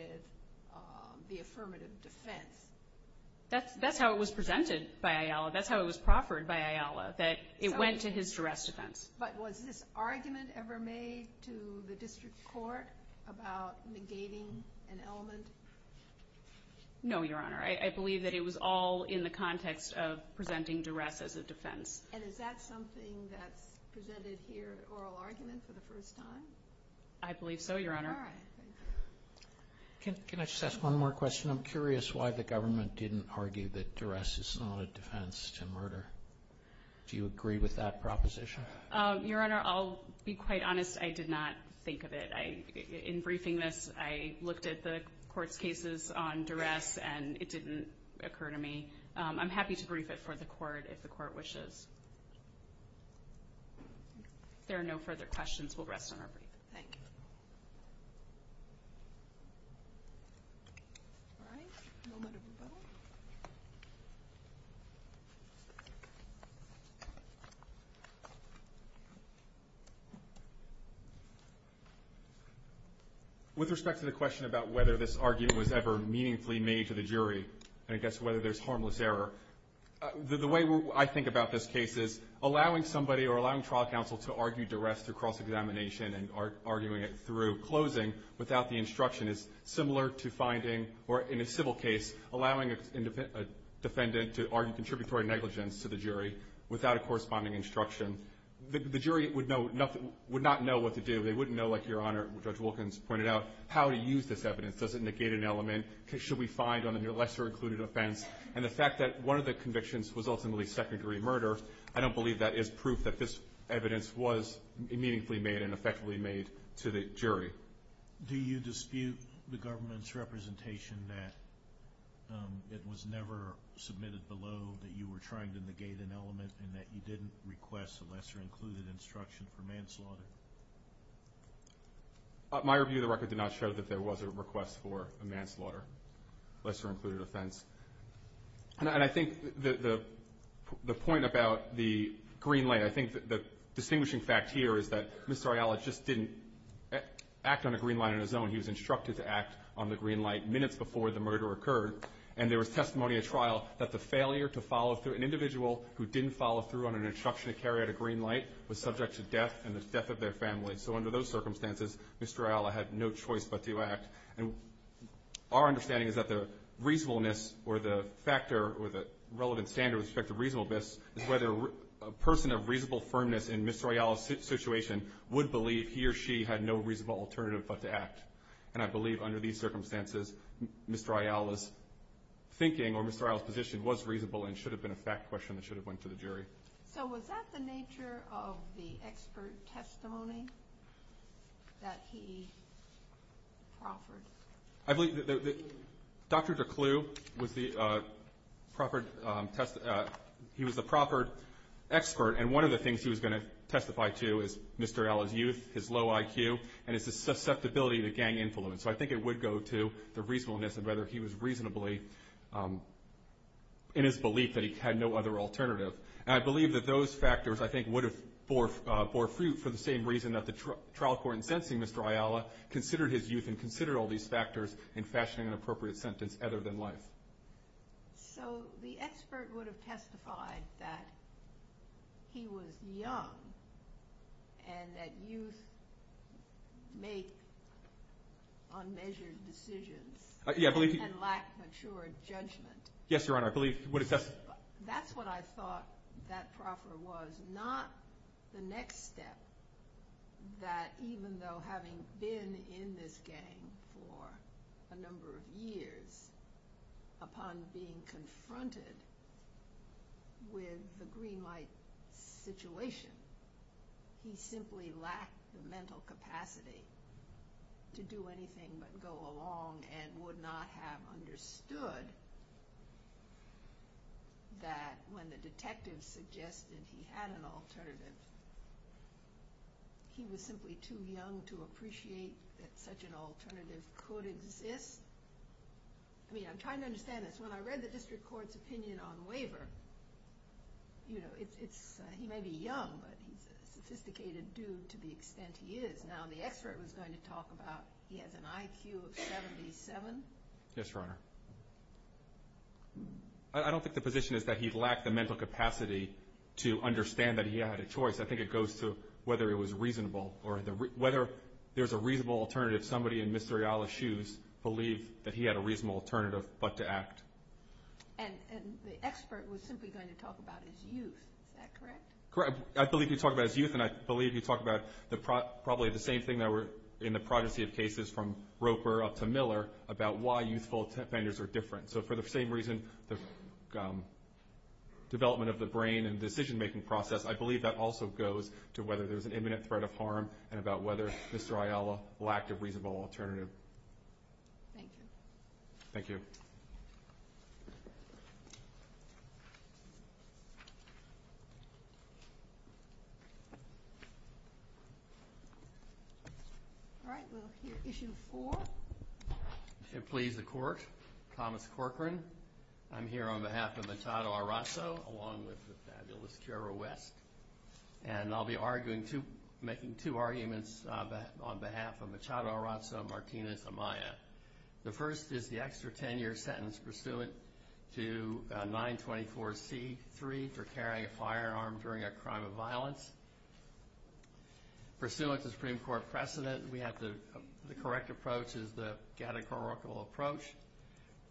the affirmative defense. That's how it was presented by Ayala. That's how it was proffered by Ayala, that it went to his duress defense. But was this argument ever made to the district court about negating an element? No, Your Honor. I believe that it was all in the context of presenting duress as a defense. And is that something that presented here as oral argument for the first time? I believe so, Your Honor. All right. Can I just ask one more question? I'm curious why the government didn't argue that duress is not a defense to murder. Do you agree with that proposition? Your Honor, I'll be quite honest. I did not think of it. In briefing this, I looked at the court's cases on duress, and it didn't occur to me. I'm happy to brief it for the court if the court wishes. If there are no further questions, we'll rest on our break. Thank you. All right. A moment of silence. With respect to the question about whether this argument was ever meaningfully made to the jury, I guess whether there's harmless error, the way I think about this case is allowing somebody or allowing trial counsel to argue duress through cross-examination and arguing it through closing without the instruction is similar to finding, or in a civil case, allowing a defendant to argue contributory negligence to the jury without a corresponding instruction. The jury would not know what to do. They wouldn't know, like Your Honor, Judge Wilkins pointed out, how to use this evidence. Does it negate an element? Should we find on a lesser-included offense? And the fact that one of the convictions was ultimately secondary murder, I don't believe that is proof that this evidence was immediately made and effectively made to the jury. Do you dispute the government's representation that it was never submitted below, that you were trying to negate an element, and that you didn't request a lesser-included instruction for manslaughter? My review of the record did not show that there was a request for a manslaughter, lesser-included offense. And I think the point about the green light, I think the distinguishing fact here is that Mr. Ayala just didn't act on the green light on his own. He was instructed to act on the green light minutes before the murder occurred, and there was testimony at trial that the failure to follow through, an individual who didn't follow through on an instruction to carry out a green light, was subject to death and the death of their family. So under those circumstances, Mr. Ayala had no choice but to act. And our understanding is that the reasonableness or the factor or the relevant standard with respect to reasonableness is whether a person of reasonable firmness in Mr. Ayala's situation would believe he or she had no reasonable alternative but to act. And I believe under these circumstances, Mr. Ayala's thinking or Mr. Ayala's position was reasonable and should have been a fact question that should have went to the jury. So was that the nature of the expert testimony that he offered? I believe that Dr. Duclos was the proper expert, and one of the things he was going to testify to is Mr. Ayala's youth, his low IQ, and his susceptibility to gang influence. So I think it would go to the reasonableness of whether he was reasonably in his belief that he had no other alternative. And I believe that those factors, I think, would have bore fruit for the same reason that the trial court in sentencing Mr. Ayala considered his youth and considered all these factors in fashioning an appropriate sentence other than life. So the expert would have testified that he was young and that youth make unmeasured decisions and lack mature judgment. Yes, Your Honor, I believe he would have testified. That's what I thought that proper was, not the next step, that even though having been in this gang for a number of years, upon being confronted with the Green Light situation, he simply lacked the mental capacity to do anything but go along and would not have understood that when the detective suggested he had an alternative, he was simply too young to appreciate that such an alternative could exist. I mean, I'm trying to understand this. When I read the district court's opinion on labor, you know, he may be young, but he's a sophisticated dude to the extent he is. Now, the expert was going to talk about he has an IQ of 77. Yes, Your Honor. I don't think the position is that he lacked the mental capacity to understand that he had a choice. I think it goes to whether it was reasonable or whether there's a reasonable alternative somebody in Mr. Ayala's shoes believed that he had a reasonable alternative but to act. And the expert was simply going to talk about his youth. Is that correct? Correct. I believe he's talking about his youth, and I believe he's talking about probably the same thing that we're in the progeny of cases from Roper up to Miller about why youthful offenders are different. So for the same reason, the development of the brain and decision-making process, I believe that also goes to whether there's an imminent threat of harm and about whether Mr. Ayala lacked a reasonable alternative. Thank you. Thank you. All right. We'll hear Issue 4. If it pleases the Court, Thomas Corcoran. I'm here on behalf of Machado Arraso along with the fabulous Jera West, and I'll be making two arguments on behalf of Machado Arraso and Martina Amaya. The first is the extra 10-year sentence pursuant to 924C3 for carrying a firearm during a crime of violence. Pursuant to Supreme Court precedent, the correct approach is the catechorical approach,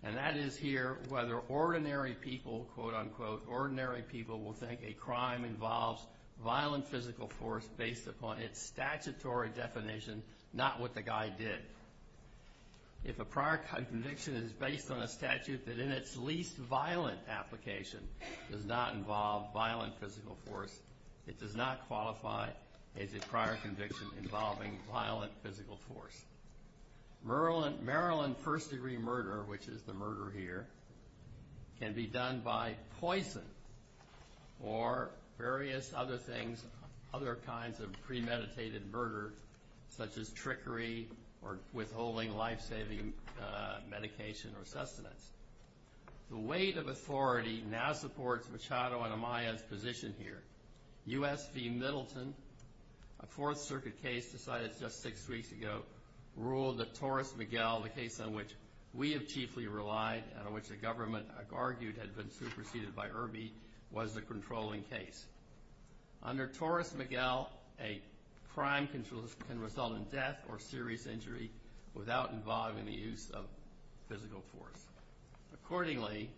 and that is here whether ordinary people, quote, unquote, ordinary people will think a crime involves violent physical force based upon its statutory definition, not what the guy did. If a prior conviction is based on a statute that in its least violent application does not involve violent physical force, it does not qualify as a prior conviction involving violent physical force. Maryland first-degree murder, which is the murder here, can be done by poison or various other things, other kinds of premeditated murder, such as trickery or withholding life-saving medication or sustenance. The weight of authority now supports Machado and Amaya's position here. USC Middleton, a Fourth Circuit case decided just six weeks ago, ruled that Torres Miguel, the case on which we have chiefly relied and on which the government, I've argued, had been superseded by Irby, was the controlling case. Under Torres Miguel, a crime can result in death or serious injury without involving the use of physical force. Accordingly,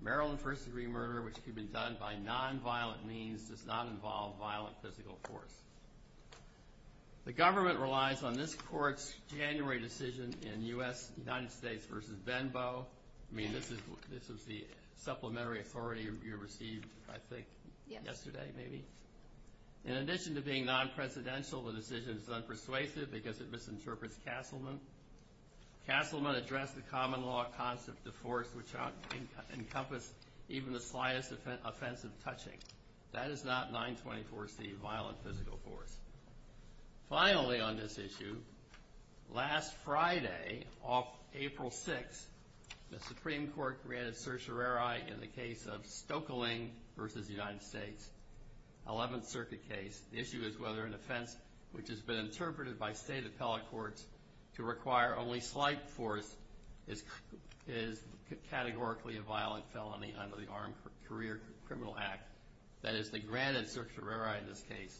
Maryland first-degree murder, which can be done by nonviolent means, does not involve violent physical force. The government relies on this court's January decision in U.S. United States v. Venbo. I mean, this is the supplementary authority you received, I think, yesterday maybe. In addition to being non-presidential, the decision is unpersuasive because it misinterprets Castleman. Castleman addressed the common law concept of force, which encompassed even the slightest offense of touching. That is not 924C, violent physical force. Finally on this issue, last Friday, April 6th, the Supreme Court granted certiorari in the case of Stokelyne v. United States, 11th Circuit case. The issue is whether an offense which has been interpreted by state appellate courts to require only slight force is categorically a violent felony under the Armed Career Criminal Act. That is, they granted certiorari in this case.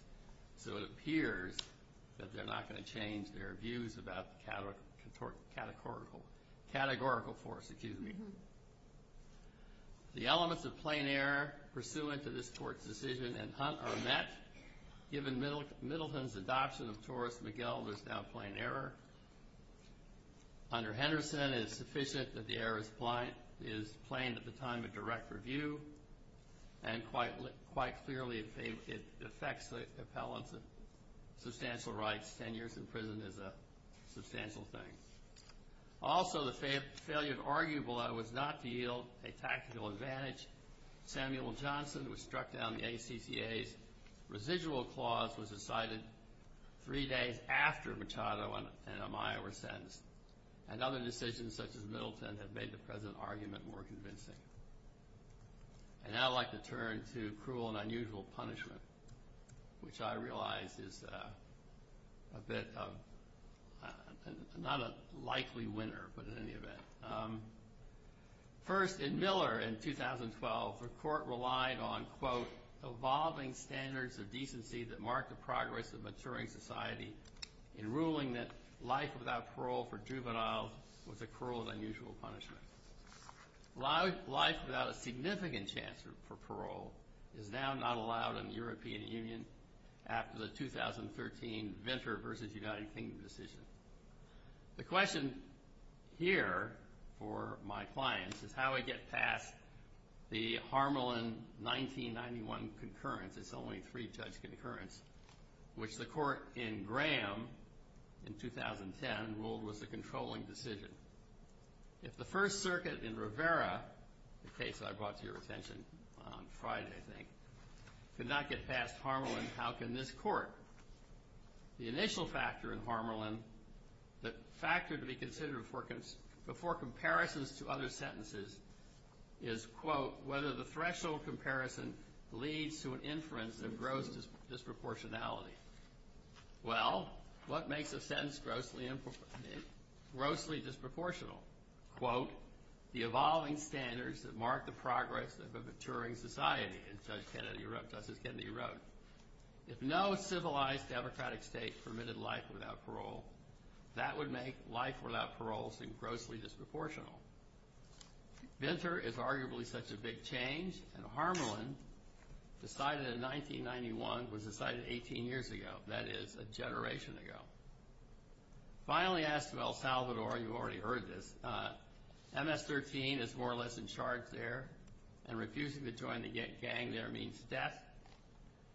So it appears that they're not going to change their views about categorical force, excuse me. The elements of plain error pursuant to this court's decision in Hunt are met. Given Middleton's adoption of Taurus-McGill, there's now plain error. Under Henderson, it is sufficient that the error is plain at the time of direct review. And quite clearly, it affects the appellate's substantial rights. Ten years in prison is a substantial thing. Also, the failure to argue below is not to yield a tactical advantage. Samuel Johnson was struck down in the ACPA. Residual applause was decided three days after Machado and Amaya were sentenced. And other decisions such as Middleton have made the present argument more convincing. And now I'd like to turn to cruel and unusual punishment, which I realize is a bit of not a likely winner, but in any event. First, in Miller in 2012, the court relied on, quote, evolving standards of decency that mark the progress of maturing society in ruling that life without parole for juveniles was a cruel and unusual punishment. Life without a significant chance for parole is now not allowed in the European Union after the 2013 Venture v. United Kingdom decision. The question here for my clients is how I get past the Harmelin 1991 concurrence, it's only a three-judge concurrence, which the court in Graham in 2010 ruled was a controlling decision. If the First Circuit in Rivera, the case I brought to your attention on Friday, I think, could not get past Harmelin, how can this court? The initial factor in Harmelin, the factor to be considered before comparisons to other sentences, is, quote, whether the threshold comparison leads to an inference of gross disproportionality. Well, what makes a sentence grossly disproportional? Quote, the evolving standards that mark the progress of a maturing society, as Judge Kennedy wrote. If no civilized democratic state permitted life without parole, that would make life without parole seem grossly disproportional. Venture is arguably such a big change in Harmelin, decided in 1991, was decided 18 years ago, that is, a generation ago. Finally asked about Salvador, you've already heard this, MS-13 is more or less in charge there, and refusing to join the gang there means death.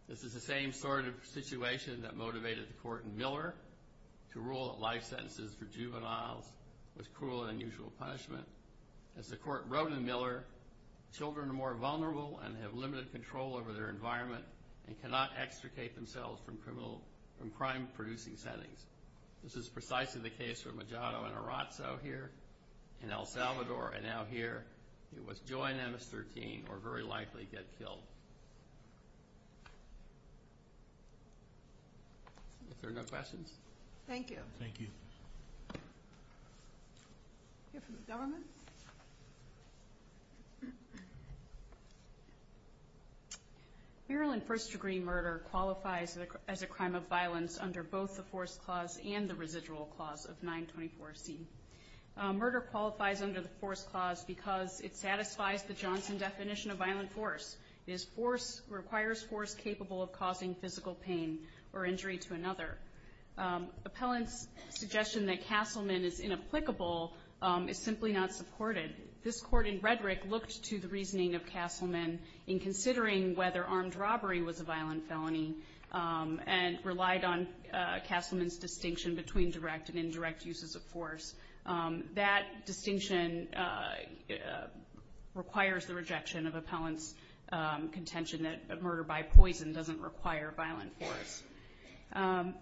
This is the same sort of situation that motivated the court in Miller to rule that life sentences for juveniles was cruel and unusual punishment. As the court wrote in Miller, children are more vulnerable and have limited control over their environment and cannot extricate themselves from crime-producing settings. This is precisely the case for Majano and Arazo here, in El Salvador, and out here, you must join MS-13 or very likely get killed. Are there no questions? Thank you. Thank you. We have from the government. Feral and first-degree murder qualifies as a crime of violence under both the force clause and the residual clause of 924C. Murder qualifies under the force clause because it satisfies the Johnson definition of violent force. It requires force capable of causing physical pain or injury to another. Appellant's suggestion that Castleman is inapplicable is simply not supported. This court, in rhetoric, looked to the reasoning of Castleman in considering whether armed robbery was a violent felony and relied on Castleman's distinction between direct and indirect uses of force. That distinction requires the rejection of appellant's contention that murder by poison doesn't require violent force. The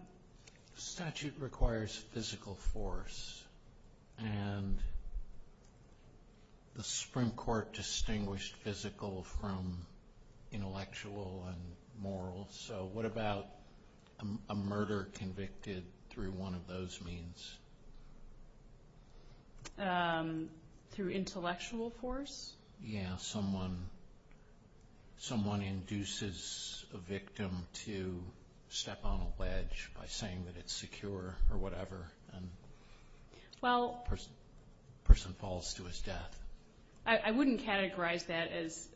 statute requires physical force, and the Supreme Court distinguished physical from intellectual and moral, so what about a murder convicted through one of those means? Through intellectual force? Yeah, someone induces a victim to step on a ledge by saying that it's secure or whatever, and the person falls to his death. I wouldn't categorize that as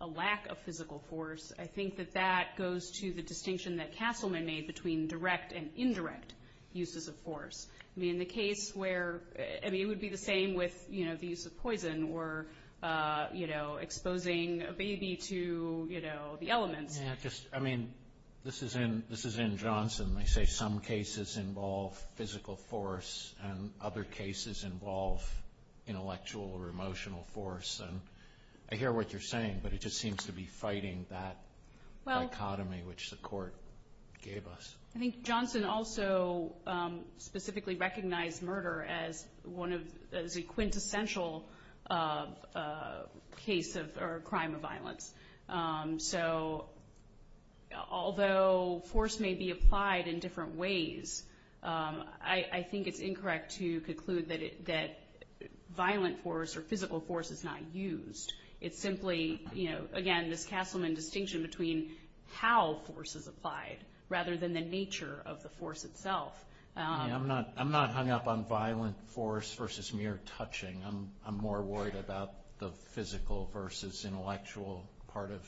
a lack of physical force. I think that that goes to the distinction that Castleman made between direct and indirect uses of force. I mean, the case where it would be the same with the use of poison or exposing a baby to the element. Yeah, I mean, this is in Johnson. They say some cases involve physical force and other cases involve intellectual or emotional force, and I hear what you're saying, but it just seems to be fighting that dichotomy which the court gave us. I think Johnson also specifically recognized murder as a quintessential case or crime of violence. So although force may be applied in different ways, I think it's incorrect to conclude that violent force or physical force is not used. It's simply, again, this Castleman distinction between how force is applied rather than the nature of the force itself. I'm not hung up on violent force versus mere touching. I'm more worried about the physical versus intellectual part of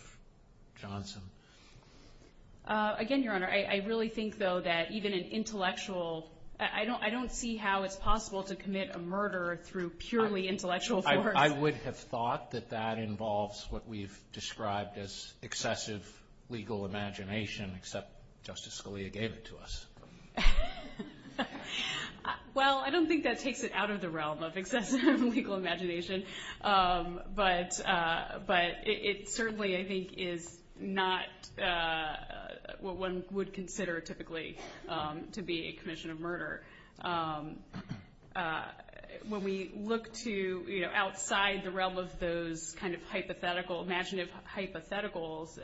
Johnson. Again, Your Honor, I really think, though, that even an intellectual, I don't see how it's possible to commit a murder through purely intellectual force. I would have thought that that involves what we've described as excessive legal imagination, except Justice Scalia gave it to us. Well, I don't think that takes it out of the realm of excessive legal imagination, but it certainly, I think, is not what one would consider typically to be a commission of murder. When we look to outside the realm of those kind of hypothetical, imaginative hypotheticals,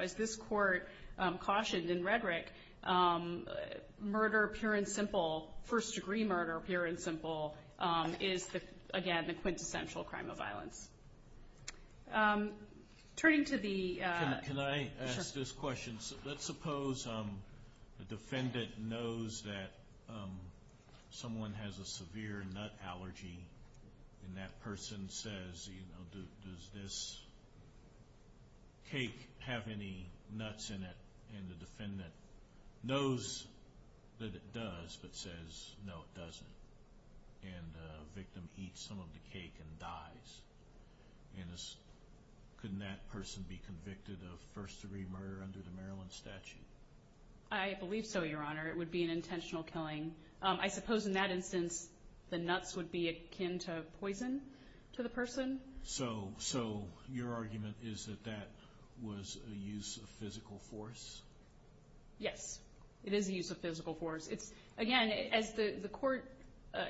as this court cautioned in rhetoric, murder, pure and simple, first-degree murder, pure and simple, is, again, the quintessential crime of violence. Turning to the... Can I ask this question? Let's suppose the defendant knows that someone has a severe nut allergy, and that person says, you know, does this cake have any nuts in it? And the defendant knows that it does, but says, no, it doesn't. And the victim eats some of the cake and dies. And couldn't that person be convicted of first-degree murder under the Maryland statute? I believe so, Your Honor. It would be an intentional killing. I suppose in that instance the nuts would be akin to poison to the person. So your argument is that that was a use of physical force? Yes, it is a use of physical force. Again, as the court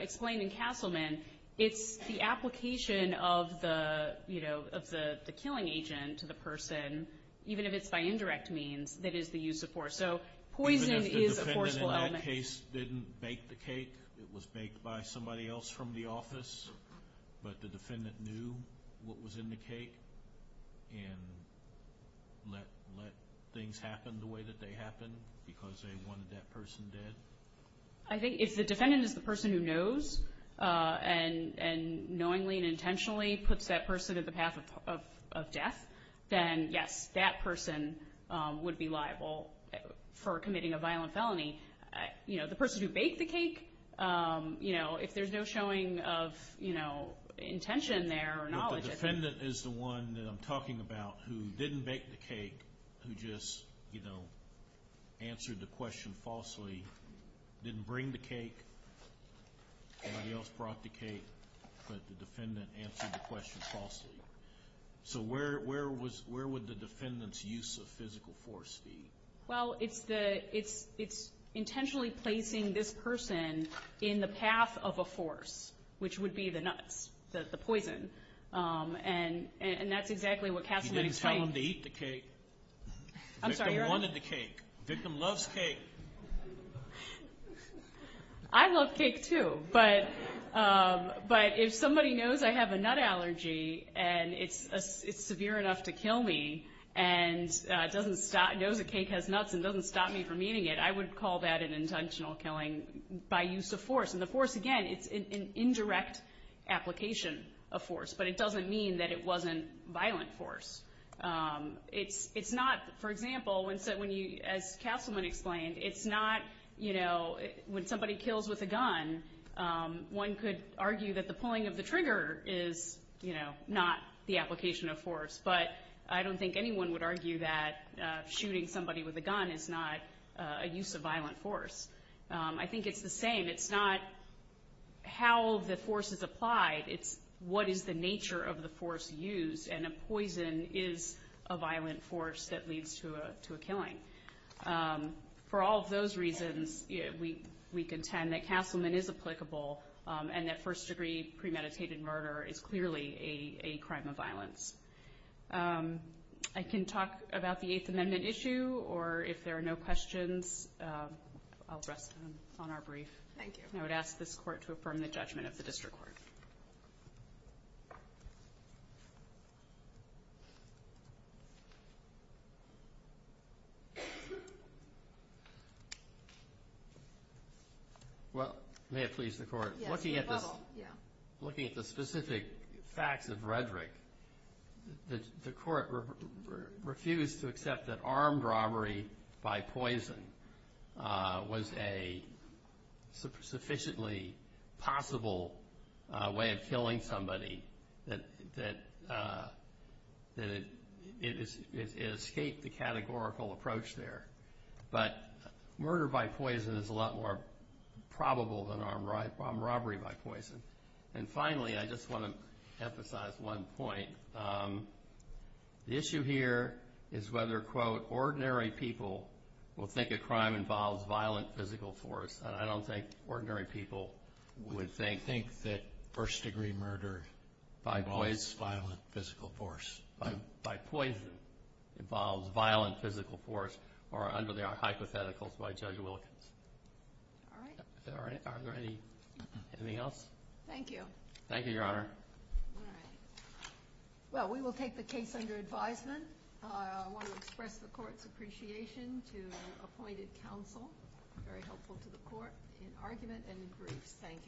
explained in Castleman, it's the application of the, you know, of the killing agent to the person, even if it's by indirect means, that is the use of force. So poison is a forceful element. The case didn't bake the cake. It was baked by somebody else from the office. But the defendant knew what was in the cake and let things happen the way that they happened because they wanted that person dead? I think if the defendant is the person who knows and knowingly and intentionally puts that person in the path of death, then, yes, that person would be liable for committing a violent felony. You know, the person who baked the cake, you know, if there's no showing of, you know, intention there or knowledge. The defendant is the one that I'm talking about who didn't bake the cake, who just, you know, answered the question falsely, didn't bring the cake, somebody else brought the cake, but the defendant answered the question falsely. So where would the defendant's use of physical force be? Well, it's intentionally placing this person in the path of a force, which would be the nuts, the poison. And that's exactly what happened to the cake. You didn't tell him to eat the cake. I'm sorry. The victim wanted the cake. The victim loves cake. I love cake, too. But if somebody knows I have a nut allergy and it's severe enough to kill me and doesn't know the cake has nuts and doesn't stop me from eating it, I would call that an intentional killing by use of force. And the force, again, is an indirect application of force, but it doesn't mean that it wasn't violent force. It's not, for example, as Councilman explained, it's not, you know, when somebody kills with a gun, one could argue that the pulling of the trigger is, you know, not the application of force, but I don't think anyone would argue that shooting somebody with a gun is not a use of violent force. I think it's the same. It's not how the force is applied. It's what is the nature of the force used, and a poison is a violent force that leads to a killing. For all of those reasons, we contend that Councilman is applicable and that first-degree premeditated murder is clearly a crime of violence. I can talk about the Eighth Amendment issue, or if there are no questions, I'll rest on our brief. I would ask this Court to affirm the judgment of the District Court. Well, may it please the Court, looking at the specific facts of rhetoric, the Court refused to accept that armed robbery by poison was a sufficiently possible way of killing somebody that it escaped the categorical approach there. But murder by poison is a lot more probable than armed robbery by poison. And finally, I just want to emphasize one point. The issue here is whether, quote, ordinary people will think a crime involves violent physical force. I don't think ordinary people would think that first-degree murder involves violent physical force. By poison involves violent physical force or under the hypothetical by Judge Wilkins. All right. Is there anything else? Thank you. Thank you, Your Honor. All right. Well, we will take the case under advisement. I want to express the Court's appreciation to the appointed counsel. Very helpful to the Court in argument and in brief. Thank you.